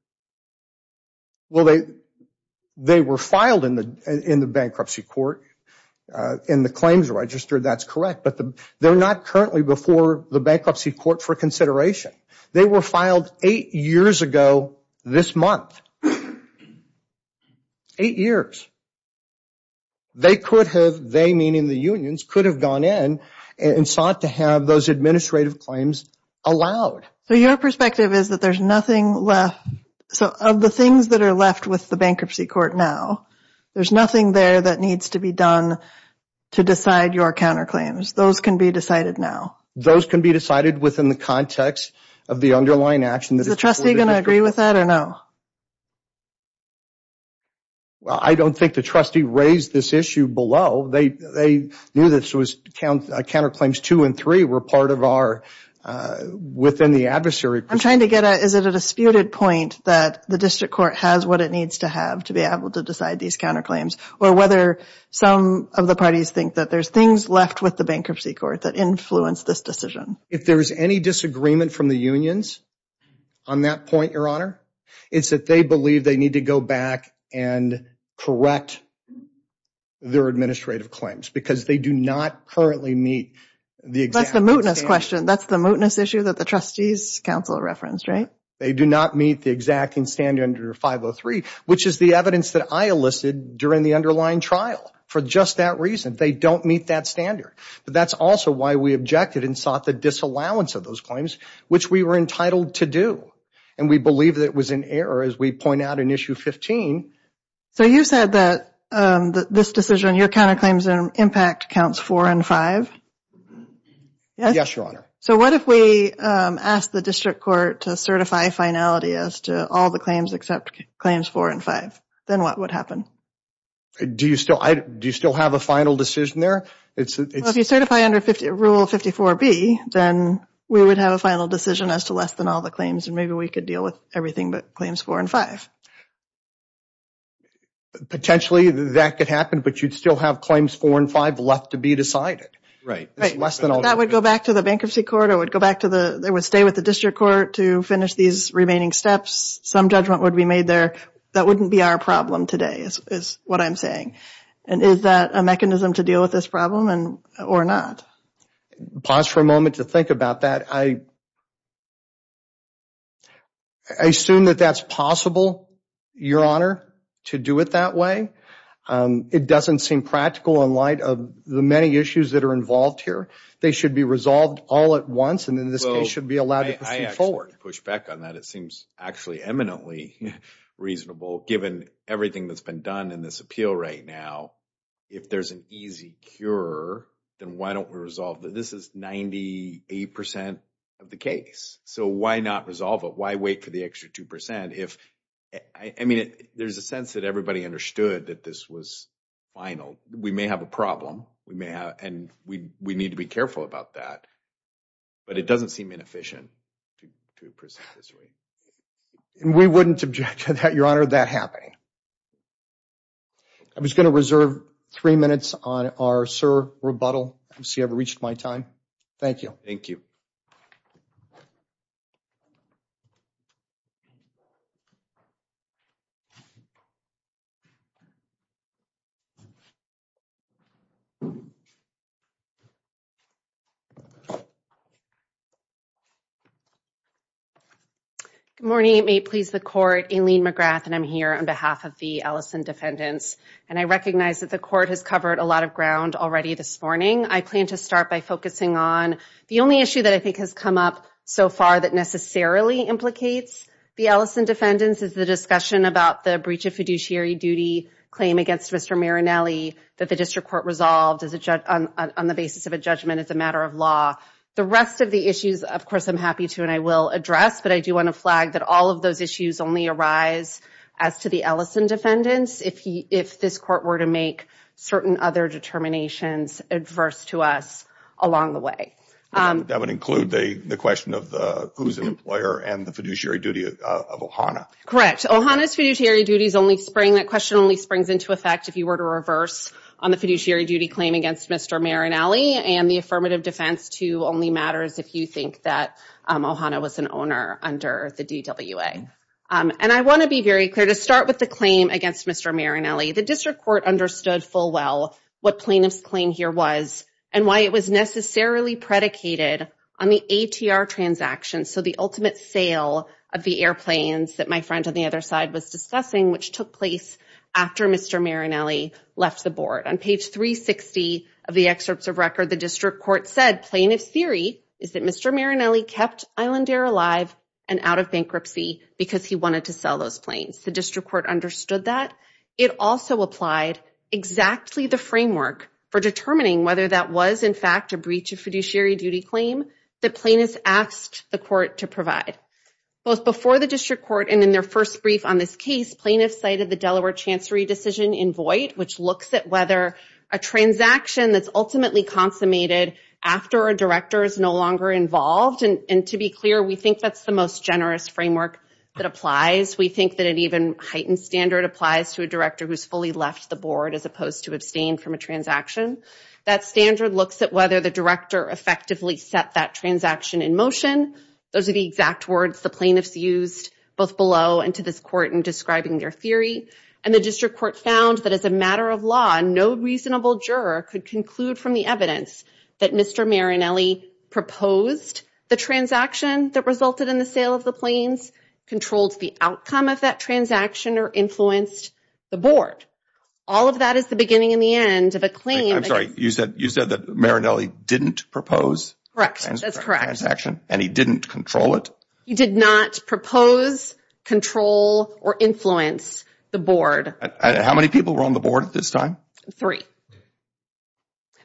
Well, they were filed in the bankruptcy court and the claims registered. That's correct, but they're not currently before the bankruptcy court for consideration. They were filed eight years ago this month. Eight years. They could have, they meaning the unions, could have gone in and sought to have those administrative claims allowed. So your perspective is that there's nothing left. So of the things that are left with the bankruptcy court now, there's nothing there that needs to be done to decide your counterclaims. Those can be decided now. Those can be decided within the context of the underlying action. Is the trustee going to counterclaims two and three were part of our, within the adversary? I'm trying to get a, is it a disputed point that the district court has what it needs to have to be able to decide these counterclaims or whether some of the parties think that there's things left with the bankruptcy court that influenced this decision? If there's any disagreement from the unions on that point, your honor, it's that they believe they need to go back and correct their administrative claims because they do not currently meet the exact. That's the mootness question. That's the mootness issue that the trustees counsel referenced, right? They do not meet the exacting standard under 503, which is the evidence that I elicited during the underlying trial for just that reason. They don't meet that standard, but that's also why we objected and sought the disallowance of those claims, which we were entitled to do. And we believe that it issue 15. So you said that this decision, your counterclaims impact counts four and five. Yes, your honor. So what if we ask the district court to certify finality as to all the claims except claims four and five, then what would happen? Do you still, do you still have a final decision there? If you certify under rule 54B, then we would have a final decision as to less than all the claims and maybe we could deal with everything but claims four and five. Potentially that could happen, but you'd still have claims four and five left to be decided. Right. That would go back to the bankruptcy court or it would go back to the, they would stay with the district court to finish these remaining steps. Some judgment would be made there. That wouldn't be our problem today is what I'm saying. And is that a mechanism to deal with this problem or not? Pause for a moment to think about that. I assume that that's possible, your honor, to do it that way. It doesn't seem practical in light of the many issues that are involved here. They should be resolved all at once and in this case should be allowed to proceed forward. I actually push back on that. It seems actually eminently reasonable given everything that's been done in this appeal right now. If there's an easy cure, then why don't we resolve that? This is 98% of the case. So why not resolve it? Why wait for the extra 2%? There's a sense that everybody understood that this was final. We may have a problem and we need to be careful about that, but it doesn't seem inefficient to proceed this way. We wouldn't object to that, having said that. I was going to reserve three minutes on our sir rebuttal. I don't see I have reached my time. Thank you. Thank you. Good morning. It may please the court. Aileen McGrath and I'm here on behalf of the Ellison defendants. And I recognize that the court has covered a lot of ground already this morning. I plan to start by focusing on the only issue that I think has come up so far that necessarily implicates the Ellison defendants is the discussion about the breach of fiduciary duty claim against Mr. Marinelli that the district court resolved on the basis of a judgment as a matter of law. The rest of the issues, of course, I'm happy to and I will address. But I do want to flag that all of those issues only arise as to the Ellison defendants if this court were to make certain other determinations adverse to us along the way. That would include the question of who's the employer and the fiduciary duty of Ohana. Correct. Ohana's fiduciary duties only spring that question only springs into effect if you were to reverse on the fiduciary duty claim against Mr. Marinelli and the affirmative defense to only matters if you think that Ohana was an owner under the D.W.A. And I want to be very clear to start with the claim against Mr. Marinelli. The district court understood full well what Plaintiff's claim here was and why it was necessarily predicated on the ATR transaction. So the ultimate sale of the airplanes that my friend on the other side was discussing, which took place after Mr. Marinelli left the board. On page 360 of the excerpts of record, the district court said plaintiff's theory is that Mr. Marinelli kept Island Air alive and out of bankruptcy because he wanted to sell those planes. The district court understood that. It also applied exactly the framework for determining whether that was, in fact, a breach of fiduciary duty claim that plaintiff's asked the court to provide. Both before the district court and in their first brief on this case, plaintiff's cited the Delaware Chancery decision in void, which looks at whether a transaction that's ultimately consummated after a director is no longer involved. And to be clear, we think that's the most generous framework that applies. We think that an even heightened standard applies to a director who's fully left the board as opposed to abstained from a transaction. That standard looks at whether the director effectively set that transaction in motion. Those are the exact words the plaintiff used both below and to this court in describing their theory. And the district court found that as a matter of law, no reasonable juror could conclude from the evidence that Mr. Marinelli proposed the transaction that resulted in the sale of the planes, controlled the outcome of that transaction, or influenced the board. All of that is the beginning and the end of a claim. I'm sorry, you said that Marinelli didn't propose the transaction and he didn't control it? He did not propose, control, or influence the board. How many people were on the board at this time? Three.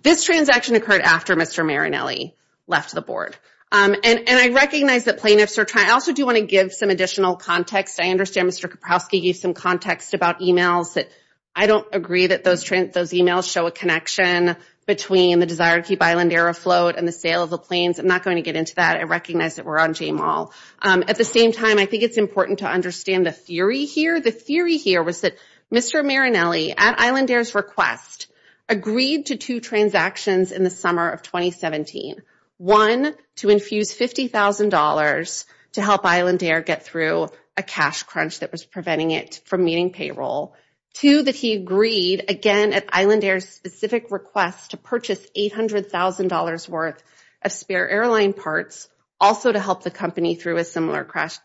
This transaction occurred after Mr. Marinelli left the board. And I recognize that plaintiffs are trying. I also do want to give some additional context. I understand Mr. Kapowski used some context about emails, but I don't agree that those emails show a connection between the desire to keep Island Air afloat and the sale of the planes. I'm not going to get into that. I recognize that we're on J-Mall. At the same time, I think it's important to understand the theory here. The theory here was that Mr. Marinelli, at Island Air's request, agreed to two transactions in the summer of 2017. One, to infuse $50,000 to help Island Air get through a cash crunch that was preventing it from meeting payroll. Two, that he agreed, again at Island Air's specific request, to purchase $800,000 worth of spare airline parts, also to help the company through a similar cash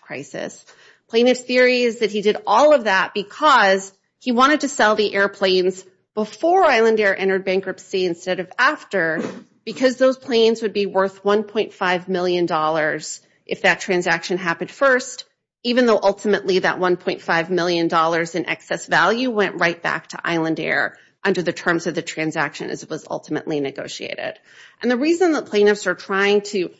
crisis. Plaintiff's theory is that he did all of that because he wanted to sell the airplanes before Island Air entered bankruptcy instead of after, because those planes would be worth $1.5 million if that transaction happened first, even though ultimately that $1.5 million in excess value went right back to Island Air under the terms of the transaction as it was ultimately negotiated. The reason that plaintiffs are trying to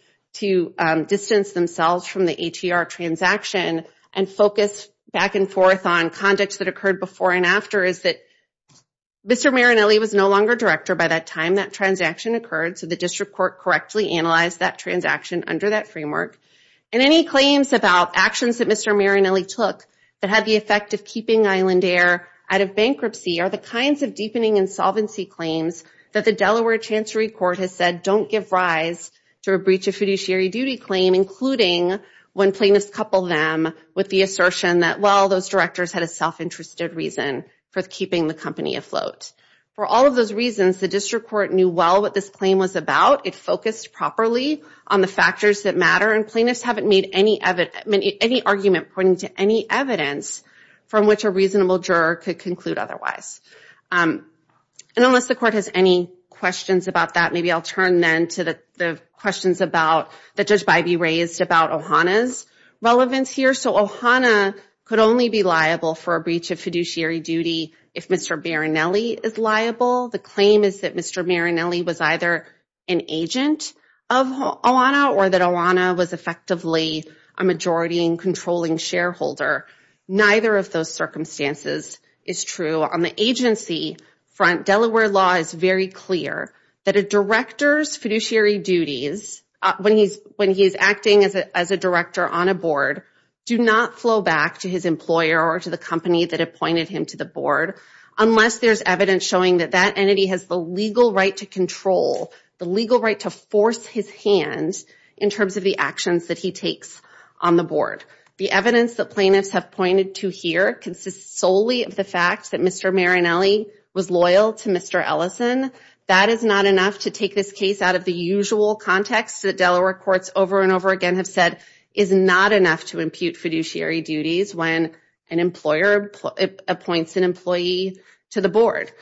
distance themselves from the ATR transaction and focus back and forth on conduct that occurred before and after is that Mr. Marinelli was no longer director by the time that transaction occurred, so the district court correctly analyzed that transaction under that framework. And any claims about actions that Mr. Marinelli took that had the effect of keeping Island Air out of bankruptcy are the kinds of deepening insolvency claims that the Delaware Chancery Court has said don't give rise to a breach of fiduciary duty claim, including when plaintiffs couple them with the assertion that, well, those directors had a self-interested reason for keeping the company afloat. For all of those reasons, the district court knew well what this claim was about. It focused properly on the factors that matter, and plaintiffs haven't made any argument pointing to any evidence from which a reasonable juror could conclude otherwise. And unless the court has any questions about that, maybe I'll turn then to the questions that just might be raised about OHANA's relevance here. So OHANA could only be liable for a breach of fiduciary duty if Mr. Marinelli is liable. The claim is that Mr. Marinelli was either an agent of OHANA or that OHANA was effectively a majority and controlling shareholder. Neither of those circumstances is true. On the agency front, Delaware law is very clear that a director's fiduciary duties, when he's acting as a director on a board, do not flow back to his employer or to the company that appointed him to the board unless there's evidence showing that that entity has the legal right to control, the legal right to force his hand in terms of the actions that he takes on the board. The evidence that plaintiffs have pointed to here consists solely of the fact that Mr. Marinelli was loyal to Mr. Ellison. That is not enough to take this case out of the usual context that Delaware courts over and over again have said is not enough to impute fiduciary duties when an employer appoints an employee to the board.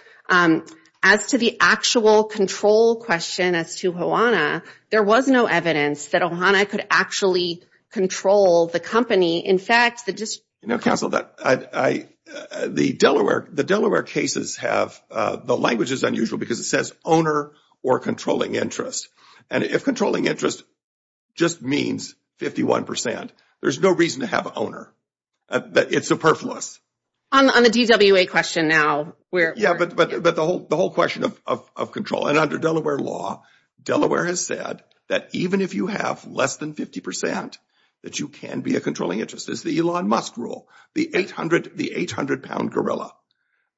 As to the actual control question as to OHANA, there was no evidence that OHANA could actually control the company. In fact, the – No, counsel, the Delaware cases have – the language is unusual because it says owner or controlling interest. And if controlling interest just means 51 percent, there's no reason to have owner. It's superfluous. On the DWA question now, we're – Yeah, but the whole question of control. And under Delaware law, Delaware has said that even if you have less than 50 percent, that you can be a controlling interest. It's the Elon Musk rule, the 800-pound gorilla.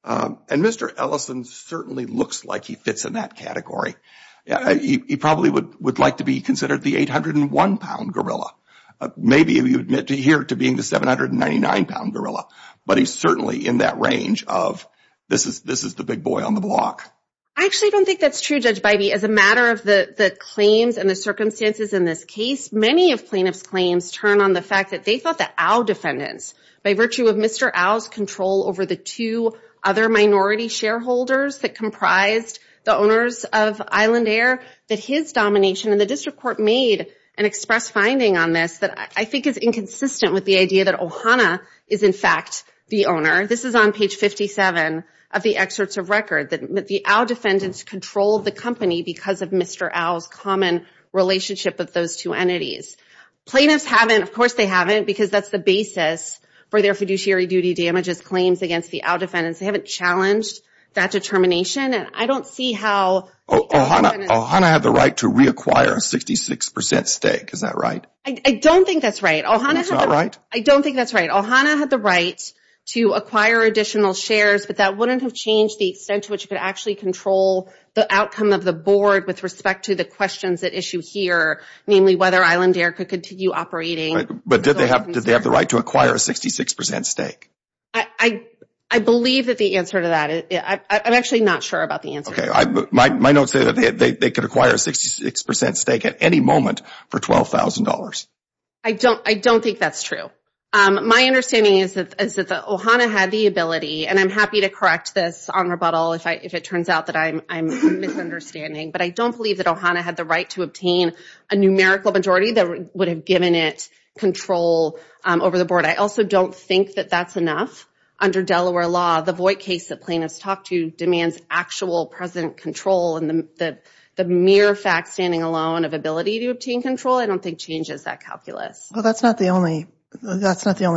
And Mr. Ellison certainly looks like he fits in that category. He probably would like to be considered the 801-pound gorilla. Maybe he would adhere to being the 799-pound gorilla. But he's certainly in that range of this is the big boy on the block. I actually don't think that's true, Judge Bybee. As a matter of the claims and the circumstances in this case, many of plaintiff's claims turn on the fact that they thought that Al defendants, by virtue of Mr. Al's control over the two other minority shareholders that comprised the owners of Island Air, that his domination in the district court made an express finding on this that I think is inconsistent with the idea that Ohana is, in fact, the owner. This is on page 57 of the excerpts of record that the Al defendants controlled the company because of Mr. Al's common relationship with those two entities. Plaintiffs haven't – of course, they haven't because that's the basis for their fiduciary duty damages claims against the Al defendants. They haven't challenged that determination. I don't see how – Ohana had the right to reacquire a 66% stake. Is that right? I don't think that's right. That's not right? I don't think that's right. Ohana had the right to acquire additional shares, but that wouldn't have changed the extent to which it could actually control the outcome of the board with respect to the questions at issue here, namely whether Island Air could continue operating. But did they have the right to acquire a 66% stake? I believe that the answer to that. I'm actually not sure about the answer. My notes say that they could acquire a 66% stake at any moment for $12,000. I don't think that's true. My understanding is that Ohana had the ability, and I'm happy to correct this on rebuttal if it turns out that I'm misunderstanding, but I don't believe that Ohana had the right to obtain a numerical majority that would have given it control over the board. I also don't think that that's enough. Under Delaware law, the Voight case that plaintiffs talked to demands actual present control. And the mere fact standing alone of ability to obtain control, I don't think, changes that calculus. Well, that's not the only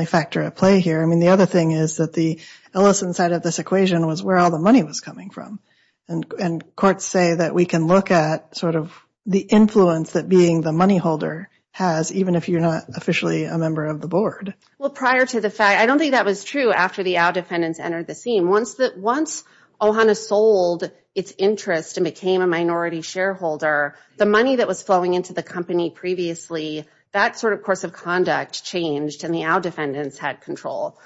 factor at play here. I mean, the other thing is that the Ellison side of this equation was where all the money was coming from. And courts say that we can look at sort of the influence that being the money holder has, even if you're not officially a member of the board. Well, prior to the fact – I don't think that was true after the Owl defendants entered the scene. Once Ohana sold its interest and became a minority shareholder, the money that was flowing into the company previously, that sort of course of conduct changed, and the Owl defendants had control.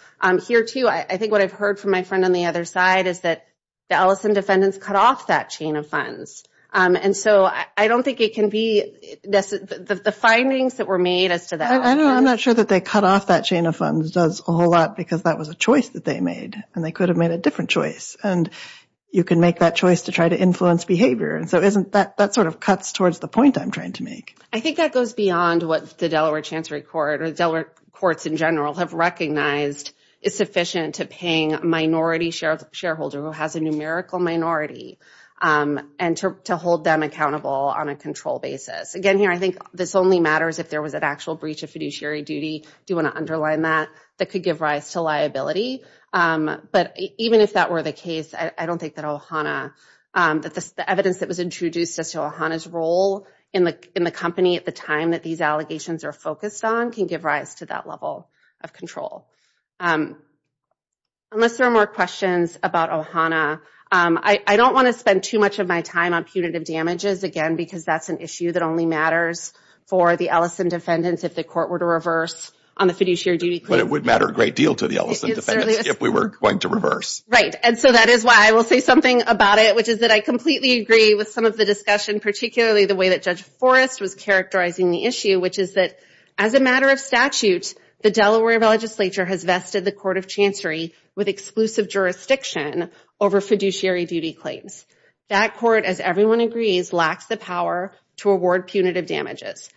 Here, too, I think what I've heard from my friend on the other side is that the Ellison defendants cut off that chain of funds. And so I don't think it can be – the findings that were made as to that – I'm not sure that they cut off that chain of funds does a whole lot because that was a choice that they made. And they could have made a different choice. And you can make that choice to try to influence behavior. And so isn't that – that sort of cuts towards the point I'm trying to make. I think that goes beyond what the Delaware Chancery Court or Delaware courts in general have recognized is sufficient to paying a minority shareholder who has a numerical minority and to hold them accountable on a control basis. Again, here, I think this only matters if there was an actual breach of fiduciary duty. You want to underline that. That could give rise to liability. But even if that were the case, I don't think that Ohana – that the evidence that was introduced as to Ohana's role in the company at the time that these allegations are focused on can give rise to that level of control. Unless there are more questions about Ohana, I don't want to spend too much of my time on punitive damages, again, because that's an issue that only matters for the Ellison defendants if the court were to reverse on the fiduciary duty claim. But it would matter a great deal to the Ellison defendants if we were going to reverse. Right. And so that is why I will say something about it, which is that I completely agree with some of the discussion, particularly the way that Judge Forrest was characterizing the issue, which is that as a matter of statute, the Delaware legislature has vested the court of chancery with exclusive jurisdiction over fiduciary duty claims. That court, as everyone agrees, lacks the power to award punitive damages.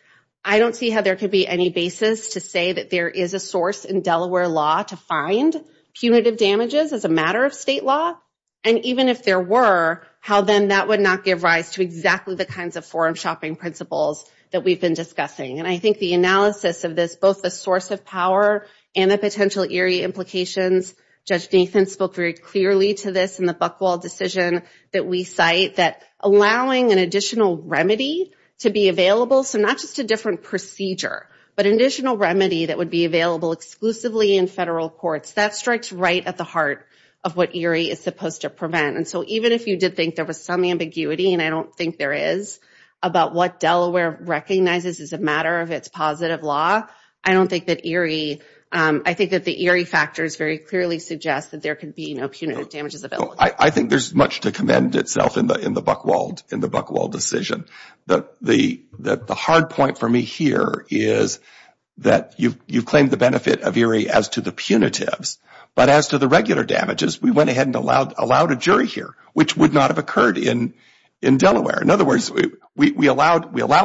I don't see how there could be any basis to say that there is a source in Delaware law to find punitive damages as a matter of state law. And even if there were, how then that would not give rise to exactly the kinds of forum shopping principles that we've been discussing. And I think the analysis of this, both the source of power and the potential eerie implications, Judge Nathan spoke very clearly to this in the Buchwald decision that we cite, that allowing an additional remedy to be available, so not just a different procedure, but an additional remedy that would be available exclusively in federal courts, that strikes right at the heart of what eerie is supposed to prevent. And so even if you did think there was some ambiguity, and I don't think there is, about what Delaware recognizes as a matter of its positive law, I don't think that eerie, I think that the eerie factors very clearly suggest that there could be punitive damages available. I think there's much to commend itself in the Buchwald decision. The hard point for me here is that you've claimed the benefit of eerie as to the punitive, but as to the regular damages, we went ahead and allowed a jury here, which would not have occurred in Delaware. In other words, we allow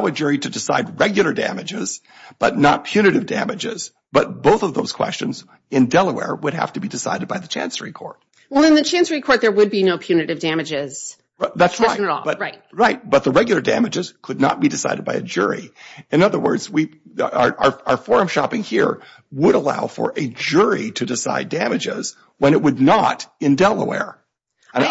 a jury to decide regular damages, but not punitive damages, but both of those questions in Delaware would have to be decided by the Chancery Court. Well, in the Chancery Court, there would be no punitive damages. That's right, but the regular damages could not be decided by a jury. In other words, our forum shopping here would allow for a jury to decide damages when it would not in Delaware,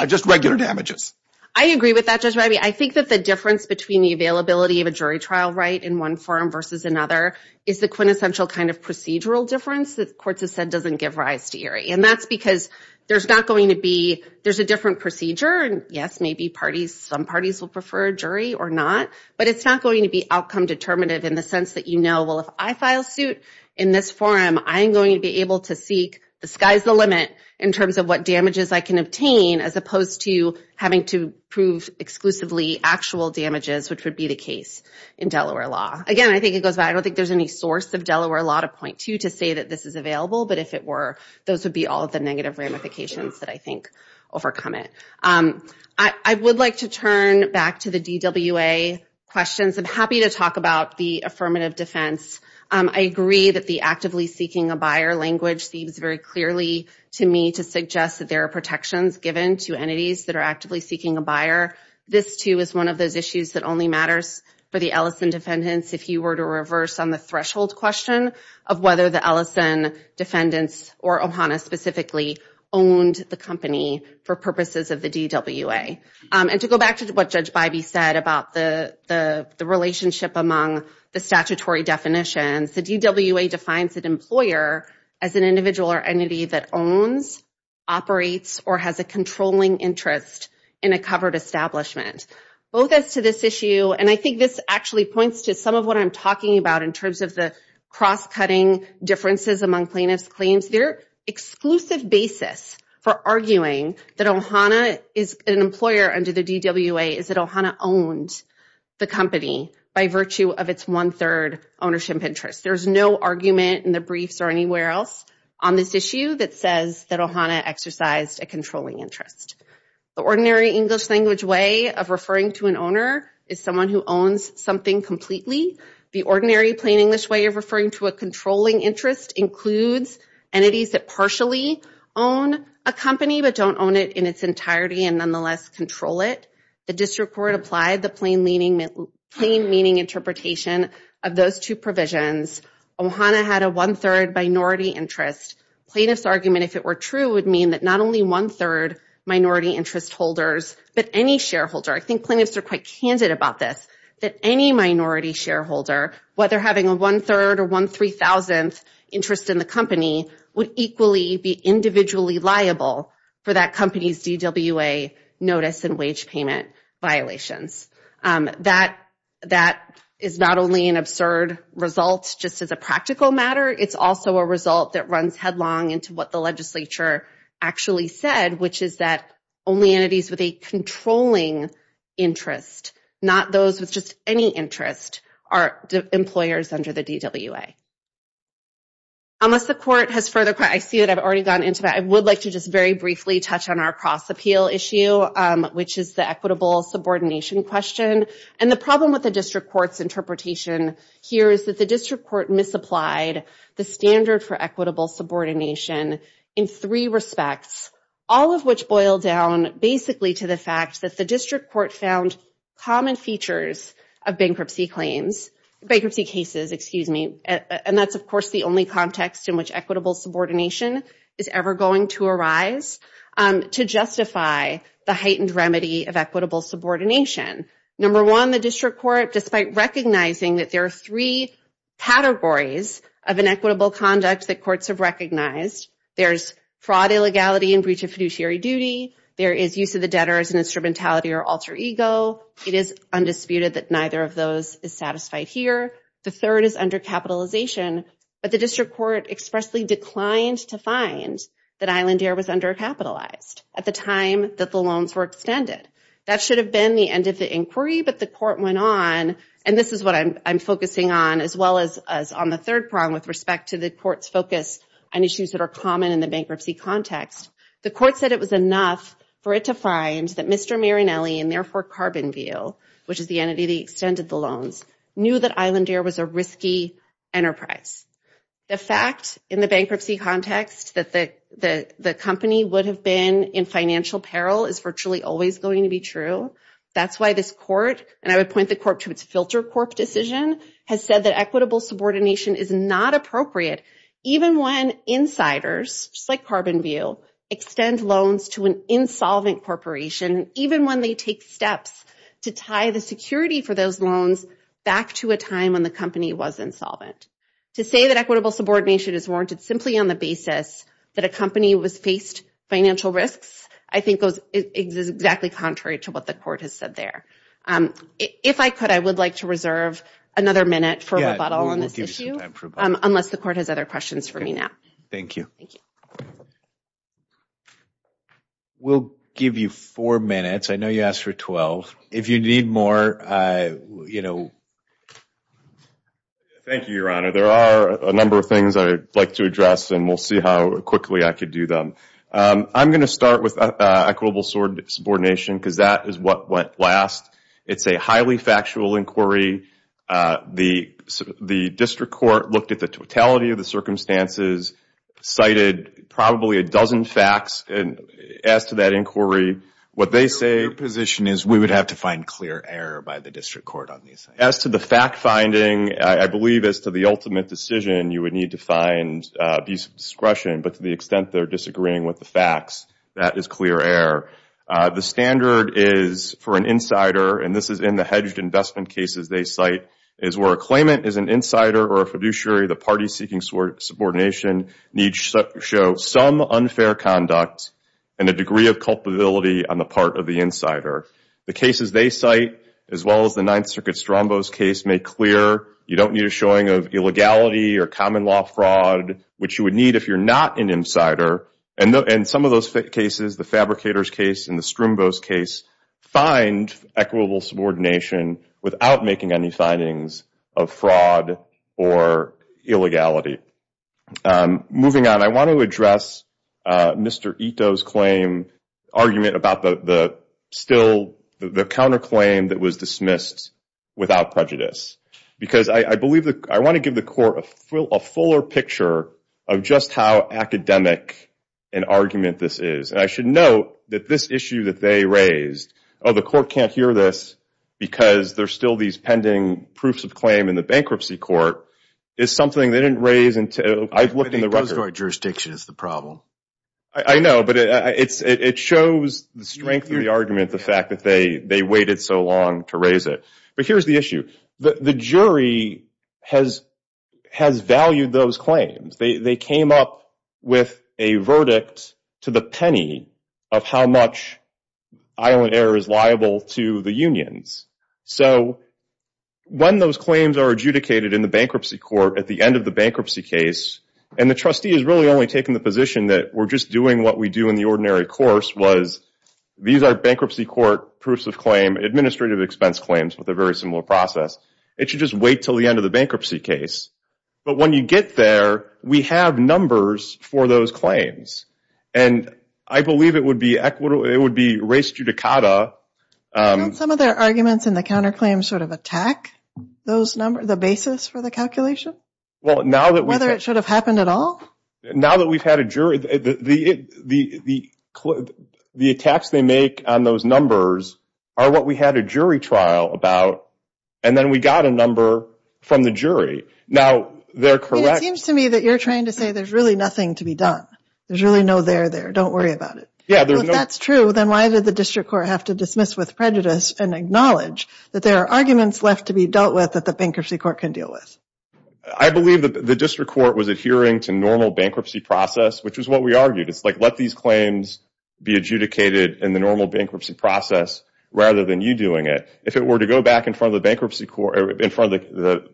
just regular damages. I agree with that, Judge Rivey. I think that the difference between the availability of a jury trial right in one forum versus another is the quintessential kind of procedural difference that courts have said doesn't give rise to eerie, and that's because there's not going to be, there's a different procedure, and yes, maybe some parties will prefer a jury or not, but it's not going to be outcome determinative in the sense that you know, well, if I file suit in this forum, I'm going to be able to seek the sky's the limit in terms of what damages I can obtain as opposed to having to prove exclusively actual damages, which would be the case in Delaware law. Again, I think it goes back, I don't think there's any source of Delaware law to point to to say that this is available, but if it were, those would be all the negative ramifications that I think overcome it. I would like to turn back to the DWA questions. I'm happy to talk about the affirmative defense. I agree that the actively seeking a buyer language seems very clearly to me to suggest that there are protections given to entities that are actively seeking a buyer. This, too, is one of those issues that only matters for the Ellison defendants if you were to reverse on the threshold question of whether the Ellison defendants or OHANA specifically owned the company for purposes of the DWA. And to go back to what Judge Bybee said about the relationship among the statutory definitions the DWA defines an employer as an individual or entity that owns, operates, or has a controlling interest in a covered establishment. Both as to this issue, and I think this actually points to some of what I'm talking about in terms of the cross-cutting differences among plaintiffs' claims. Their exclusive basis for arguing that OHANA is an employer under the DWA is that OHANA owns the company by virtue of its one-third ownership interest. There's no argument in the briefs or anywhere else on this issue that says that OHANA exercised a controlling interest. The ordinary English language way of referring to an owner is someone who owns something completely. The ordinary plain English way of referring to a controlling interest includes entities that partially own a company but don't own it in its entirety and nonetheless control it. The district court applied the plain meaning interpretation of those two provisions. OHANA had a one-third minority interest. Plaintiff's argument, if it were true, would mean that not only one-third minority interest holders but any shareholder, I think plaintiffs are quite candid about this, that any minority shareholder, whether having a one-third or one-three-thousandth interest in the company, would equally be individually liable for that company's DWA notice and wage payment violations. That is not only an absurd result just as a practical matter. It's also a result that runs headlong into what the legislature actually said, which is that only entities with a controlling interest, not those with just any interest, are the employers under the DWA. I see that I've already gone into that. I would like to just very briefly touch on our cross-appeal issue, which is the equitable subordination question. And the problem with the district court's interpretation here is that the district court misapplied the standard for equitable subordination in three respects, all of which boil down basically to the fact that the district court found common features of bankruptcy cases. And that's, of course, the only context in which equitable subordination is ever going to arise to justify the heightened remedy of equitable subordination. Number one, the district court, despite recognizing that there are three categories of inequitable conduct that courts have recognized, there's fraud, illegality, and breach of fiduciary duty. There is use of the debtor as an instrumentality or alter ego. It is undisputed that neither of those is satisfied here. The third is undercapitalization. But the district court expressly declined to find that Island Air was undercapitalized at the time that the loans were extended. That should have been the end of the inquiry, but the court went on, and this is what I'm focusing on as well as on the third prong with respect to the court's focus on issues that are common in the bankruptcy context. The court said it was enough for it to find that Mr. Marinelli and therefore Carbon Veal, which is the entity that extended the loans, knew that Island Air was a risky enterprise. The fact in the bankruptcy context that the company would have been in financial peril is virtually always going to be true. That's why this court, and I would point the court to its filter corp decision, has said that equitable subordination is not appropriate even when insiders, just like Carbon Veal, extend loans to an insolvent corporation, even when they take steps to tie the security for those loans back to a time when the company was insolvent. To say that equitable subordination is warranted simply on the basis that a company was faced financial risks I think is exactly contrary to what the court has said there. If I could, I would like to reserve another minute for rebuttal on this issue, unless the court has other questions for me now. Thank you. We'll give you four minutes. I know you asked for 12. If you need more, you know. Thank you, Your Honor. There are a number of things I'd like to address, and we'll see how quickly I can do them. I'm going to start with equitable subordination because that is what went last. It's a highly factual inquiry. The district court looked at the totality of the circumstances, cited probably a dozen facts as to that inquiry. What they say is we would have to find clear error by the district court on these things. As to the fact-finding, I believe as to the ultimate decision, you would need to find abuse of discretion, but to the extent they're disagreeing with the facts, that is clear error. The standard is for an insider, and this is in the hedged investment cases they cite, is where a claimant is an insider or a fiduciary, the party seeking subordination needs to show some unfair conduct and a degree of culpability on the part of the insider. The cases they cite, as well as the Ninth Circuit Strombos case, make clear, you don't need a showing of illegality or common law fraud, which you would need if you're not an insider. And some of those cases, the Fabricators case and the Strombos case, find equitable subordination without making any findings of fraud or illegality. Moving on, I want to address Mr. Ito's claim, argument about the counterclaim that was dismissed without prejudice, because I want to give the court a fuller picture of just how academic an argument this is. And I should note that this issue that they raised, oh, the court can't hear this because there's still these pending proofs of claim in the bankruptcy court, is something they didn't raise until I've looked in the record. I think the court jurisdiction is the problem. I know, but it shows the strength of the argument, the fact that they waited so long to raise it. But here's the issue. The jury has valued those claims. They came up with a verdict to the penny of how much Island Air is liable to the unions. So when those claims are adjudicated in the bankruptcy court at the end of the bankruptcy case, and the trustee is really only taking the position that we're just doing what we do in the ordinary course, was these are bankruptcy court proofs of claim, administrative expense claims with a very similar process. It should just wait till the end of the bankruptcy case. But when you get there, we have numbers for those claims. And I believe it would be race judicata. Don't some of their arguments in the counterclaims sort of attack the basis for the calculation? Whether it should have happened at all? Now that we've had a jury, the attacks they make on those numbers are what we had a jury trial about, and then we got a number from the jury. Now, they're correct. It seems to me that you're trying to say there's really nothing to be done. There's really no there there. Don't worry about it. Yeah, there's no. If that's true, then why did the district court have to dismiss with prejudice and acknowledge that there are arguments left to be dealt with that the bankruptcy court can deal with? I believe that the district court was adhering to normal bankruptcy process, which is what we argued. It's like let these claims be adjudicated in the normal bankruptcy process rather than you doing it. If it were to go back in front of the bankruptcy court or in front of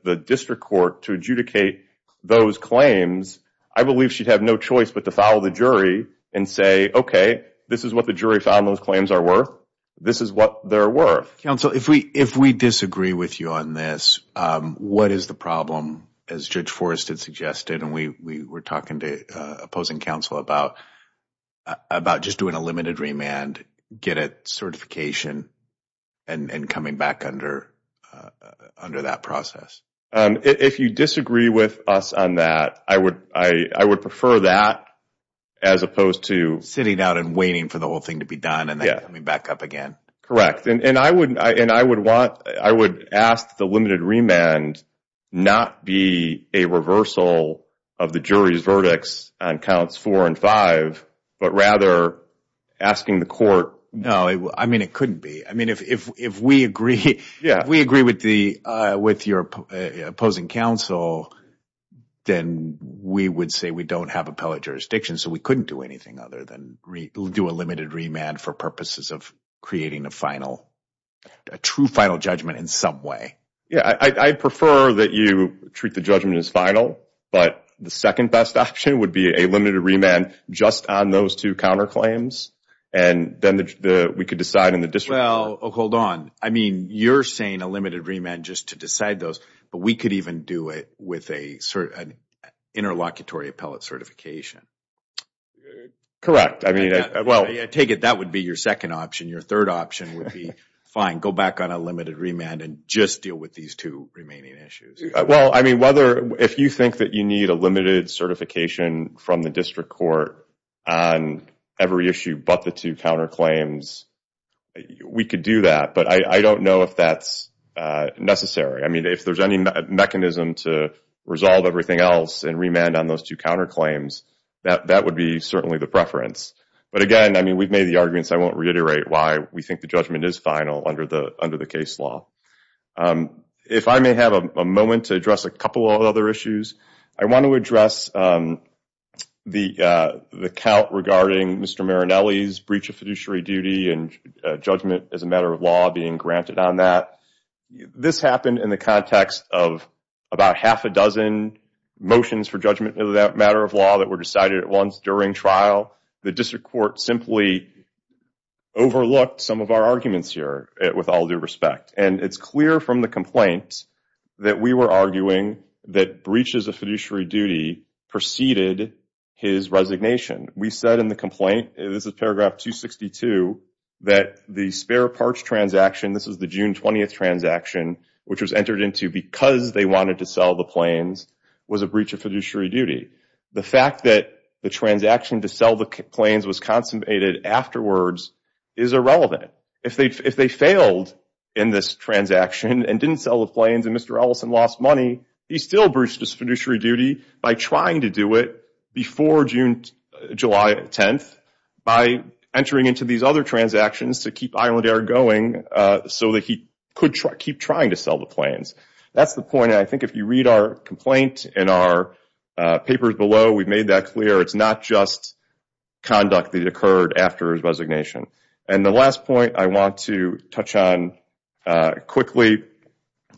the district court to adjudicate those claims, I believe she'd have no choice but to follow the jury and say, okay, this is what the jury found those claims are worth. This is what they're worth. Counsel, if we disagree with you on this, what is the problem? As Judge Forrest had suggested, and we were talking to opposing counsel about just doing a limited remand, get a certification and coming back under that process. If you disagree with us on that, I would prefer that as opposed to. Sitting out and waiting for the whole thing to be done and coming back up again. Correct. And I would ask the limited remand not be a reversal of the jury's verdicts on counts four and five, but rather asking the court. No, I mean, it couldn't be. I mean, if we agree with your opposing counsel, then we would say we don't have appellate jurisdiction. So we couldn't do anything other than do a limited remand for purposes of creating a final, a true final judgment in some way. Yeah, I prefer that you treat the judgment as final. But the second best option would be a limited remand just on those two counterclaims, and then we could decide in the district. Well, hold on. I mean, you're saying a limited remand just to decide those, but we could even do it with an interlocutory appellate certification. Correct. I take it that would be your second option. Your third option would be fine, go back on a limited remand and just deal with these two remaining issues. Well, I mean, if you think that you need a limited certification from the district court on every issue but the two counterclaims, we could do that. But I don't know if that's necessary. I mean, if there's any mechanism to resolve everything else and remand on those two counterclaims, that would be certainly the preference. But, again, I mean, we've made the arguments. I won't reiterate why we think the judgment is final under the case law. If I may have a moment to address a couple of other issues. I want to address the count regarding Mr. Marinelli's breach of fiduciary duty and judgment as a matter of law being granted on that. This happened in the context of about half a dozen motions for judgment in that matter of law that were decided at once during trial. The district court simply overlooked some of our arguments here with all due respect. And it's clear from the complaints that we were arguing that breaches of fiduciary duty preceded his resignation. We said in the complaint, and this is paragraph 262, that the spare parts transaction, this was the June 20th transaction, which was entered into because they wanted to sell the planes, was a breach of fiduciary duty. The fact that the transaction to sell the planes was consummated afterwards is irrelevant. If they failed in this transaction and didn't sell the planes and Mr. Ellison lost money, he still breached his fiduciary duty by trying to do it before July 10th, by entering into these other transactions to keep Island Air going so that he could keep trying to sell the planes. That's the point. And I think if you read our complaint in our papers below, we've made that clear. It's not just conduct that occurred after his resignation. And the last point I want to touch on quickly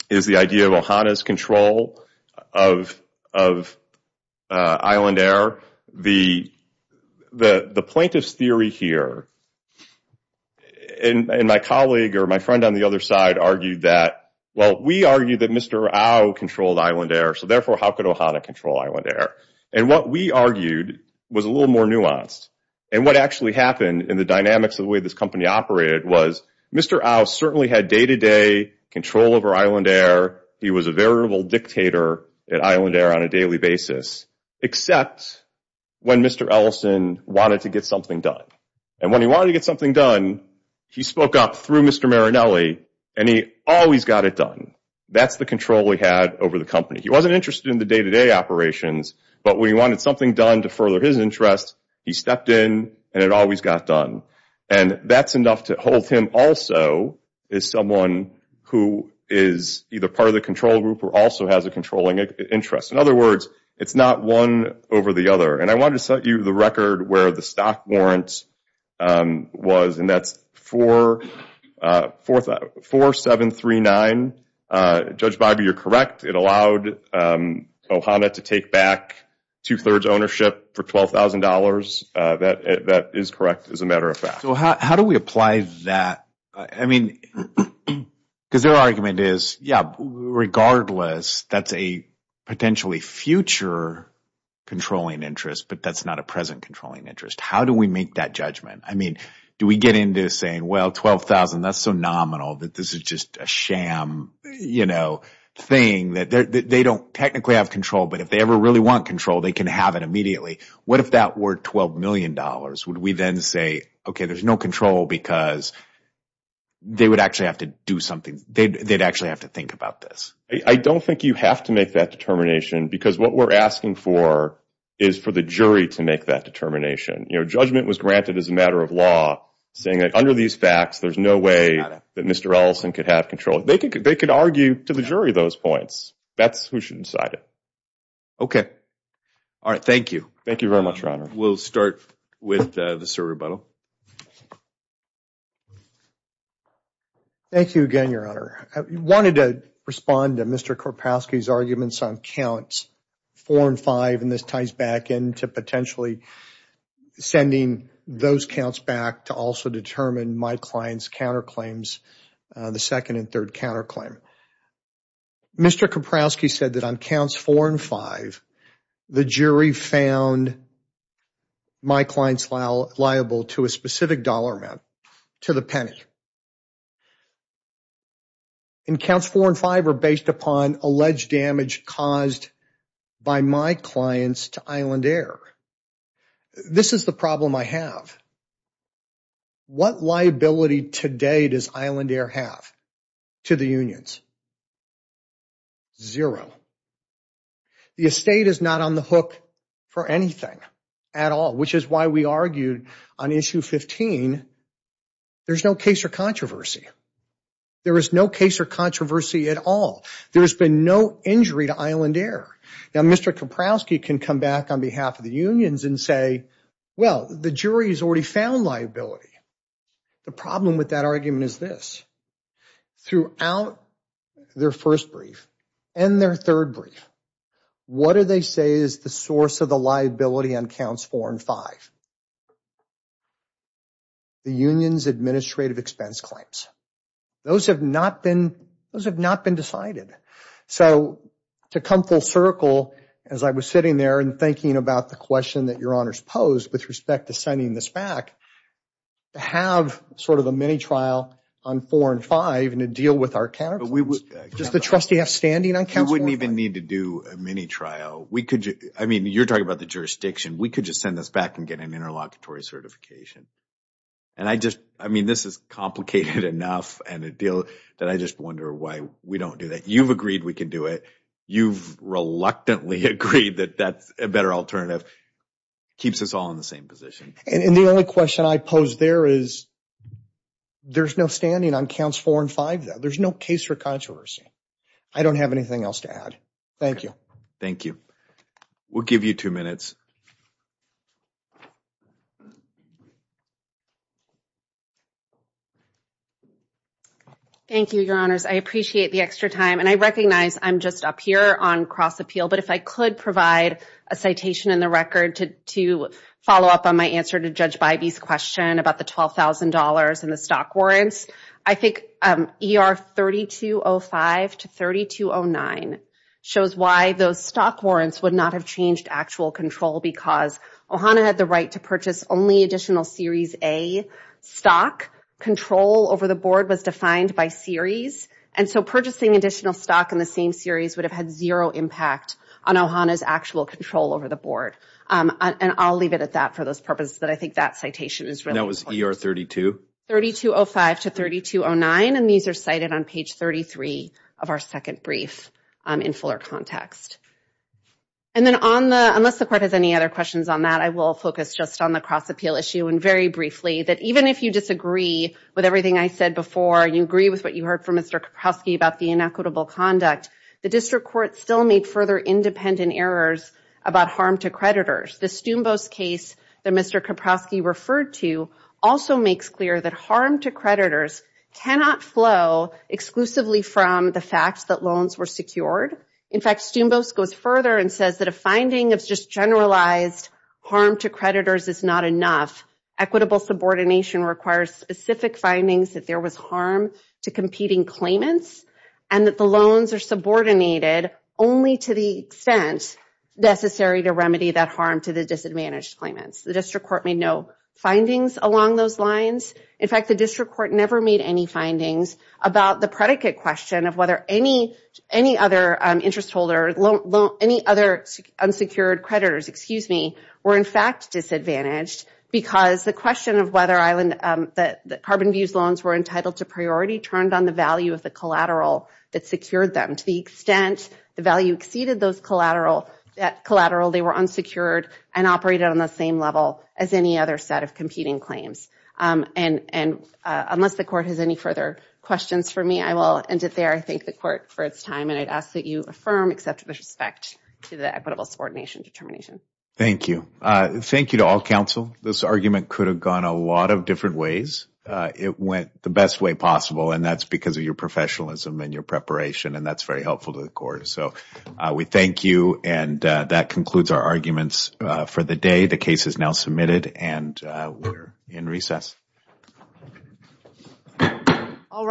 is the idea of Ohana's control of Island Air. The plaintiff's theory here, and my colleague or my friend on the other side argued that, well, we argued that Mr. Au controlled Island Air, so therefore how could Ohana control Island Air? And what we argued was a little more nuanced. And what actually happened in the dynamics of the way this company operated was, Mr. Au certainly had day-to-day control over Island Air. He was a variable dictator at Island Air on a daily basis, except when Mr. Ellison wanted to get something done. And when he wanted to get something done, he spoke up through Mr. Marinelli and he always got it done. That's the control we had over the company. He wasn't interested in the day-to-day operations, but when he wanted something done to further his interest, he stepped in and it always got done. And that's enough to hold him also as someone who is either part of the control group or also has a controlling interest. In other words, it's not one over the other. And I wanted to set you the record where the stop warrants was, and that's 4739. Judge Bobby, you're correct. It allowed Ohana to take back two-thirds ownership for $12,000. That is correct, as a matter of fact. So how do we apply that? I mean, because their argument is, yeah, regardless, that's a potentially future controlling interest, but that's not a present controlling interest. How do we make that judgment? I mean, do we get into saying, well, $12,000, that's so nominal that this is just a sham thing? They don't technically have control, but if they ever really want control, they can have it immediately. What if that were $12 million? Would we then say, okay, there's no control because they would actually have to do something. They'd actually have to think about this. I don't think you have to make that determination because what we're asking for is for the jury to make that determination. You know, judgment was granted as a matter of law, saying that under these facts, there's no way that Mr. Ellison could have control. They could argue to the jury those points. That's who should decide it. Okay. All right. Thank you. Thank you very much, Your Honor. We'll start with Mr. Rubato. Thank you again, Your Honor. I wanted to respond to Mr. Kropowski's arguments on counts four and five, and this ties back into potentially sending those counts back to also determine my client's counterclaims, the second and third counterclaim. Mr. Kropowski said that on counts four and five, the jury found my clients liable to a specific dollar amount, to the penny. And counts four and five are based upon alleged damage caused by my clients to Island Air. This is the problem I have. What liability today does Island Air have to the unions? Zero. The estate is not on the hook for anything at all, which is why we argued on issue 15, there's no case or controversy. There is no case or controversy at all. There's been no injury to Island Air. Now, Mr. Kropowski can come back on behalf of the unions and say, well, the jury has already found liability. The problem with that argument is this. Throughout their first brief and their third brief, what do they say is the source of the liability on counts four and five? The union's administrative expense claims. Those have not been decided. So to come full circle, as I was sitting there and thinking about the question that your honors posed with respect to sending this back, have sort of a mini-trial on four and five to deal with our counts? Does the trustee have standing on counts four and five? We wouldn't even need to do a mini-trial. I mean, you're talking about the jurisdiction. We could just send this back and get an interlocutory certification. I mean, this is complicated enough that I just wonder why we don't do that. You've agreed we can do it. You've reluctantly agreed that a better alternative keeps us all in the same position. And the only question I pose there is there's no standing on counts four and five. There's no case for controversy. I don't have anything else to add. Thank you. Thank you. We'll give you two minutes. Thank you, your honors. I appreciate the extra time. And I recognize I'm just up here on cross-appeal. But if I could provide a citation in the record to follow up on my answer to Judge Bybee's question about the $12,000 and the stock warrants, I think ER 3205 to 3209 shows why those stock warrants would not have changed actual control because Ohana had the right to purchase only additional series A stock. Control over the board was defined by series. And so purchasing additional stock in the same series would have had zero impact on Ohana's actual control over the board. And I'll leave it at that for those purposes. But I think that citation is really important. That was ER 3205? 3205 to 3209. And these are cited on page 33 of our second brief in fuller context. And then on the ‑‑ unless the court has any other questions on that, I will focus just on the cross-appeal issue. And very briefly, that even if you disagree with everything I said before, you agree with what you heard from Mr. Kapowski about the inequitable conduct, the district court still made further independent errors about harm to creditors. The Stoombo's case that Mr. Kapowski referred to also makes clear that harm to creditors cannot flow exclusively from the fact that loans were secured. In fact, Stoombo's goes further and says that a finding of just generalized harm to creditors is not enough. Equitable subordination requires specific findings that there was harm to competing claimants. And that the loans are subordinated only to the extent necessary to remedy that harm to the disadvantaged claimants. The district court made no findings along those lines. In fact, the district court never made any findings about the predicate question of whether any other interest holders, any other unsecured creditors, excuse me, were in fact disadvantaged because the question of whether carbon views loans were entitled to priority turned on the value of the collateral that secured them. To the extent the value exceeded those collateral, they were unsecured and operated on the same level as any other set of competing claims. And unless the court has any further questions for me, I will end it there. I thank the court for its time. And I ask that you affirm, accept, and respect the equitable subordination determination. Thank you. Thank you to all counsel. This argument could have gone a lot of different ways. It went the best way possible. And that's because of your professionalism and your preparation. And that's very helpful to the court. So we thank you. And that concludes our arguments for the day. The case is now submitted. And we're in recess. All right.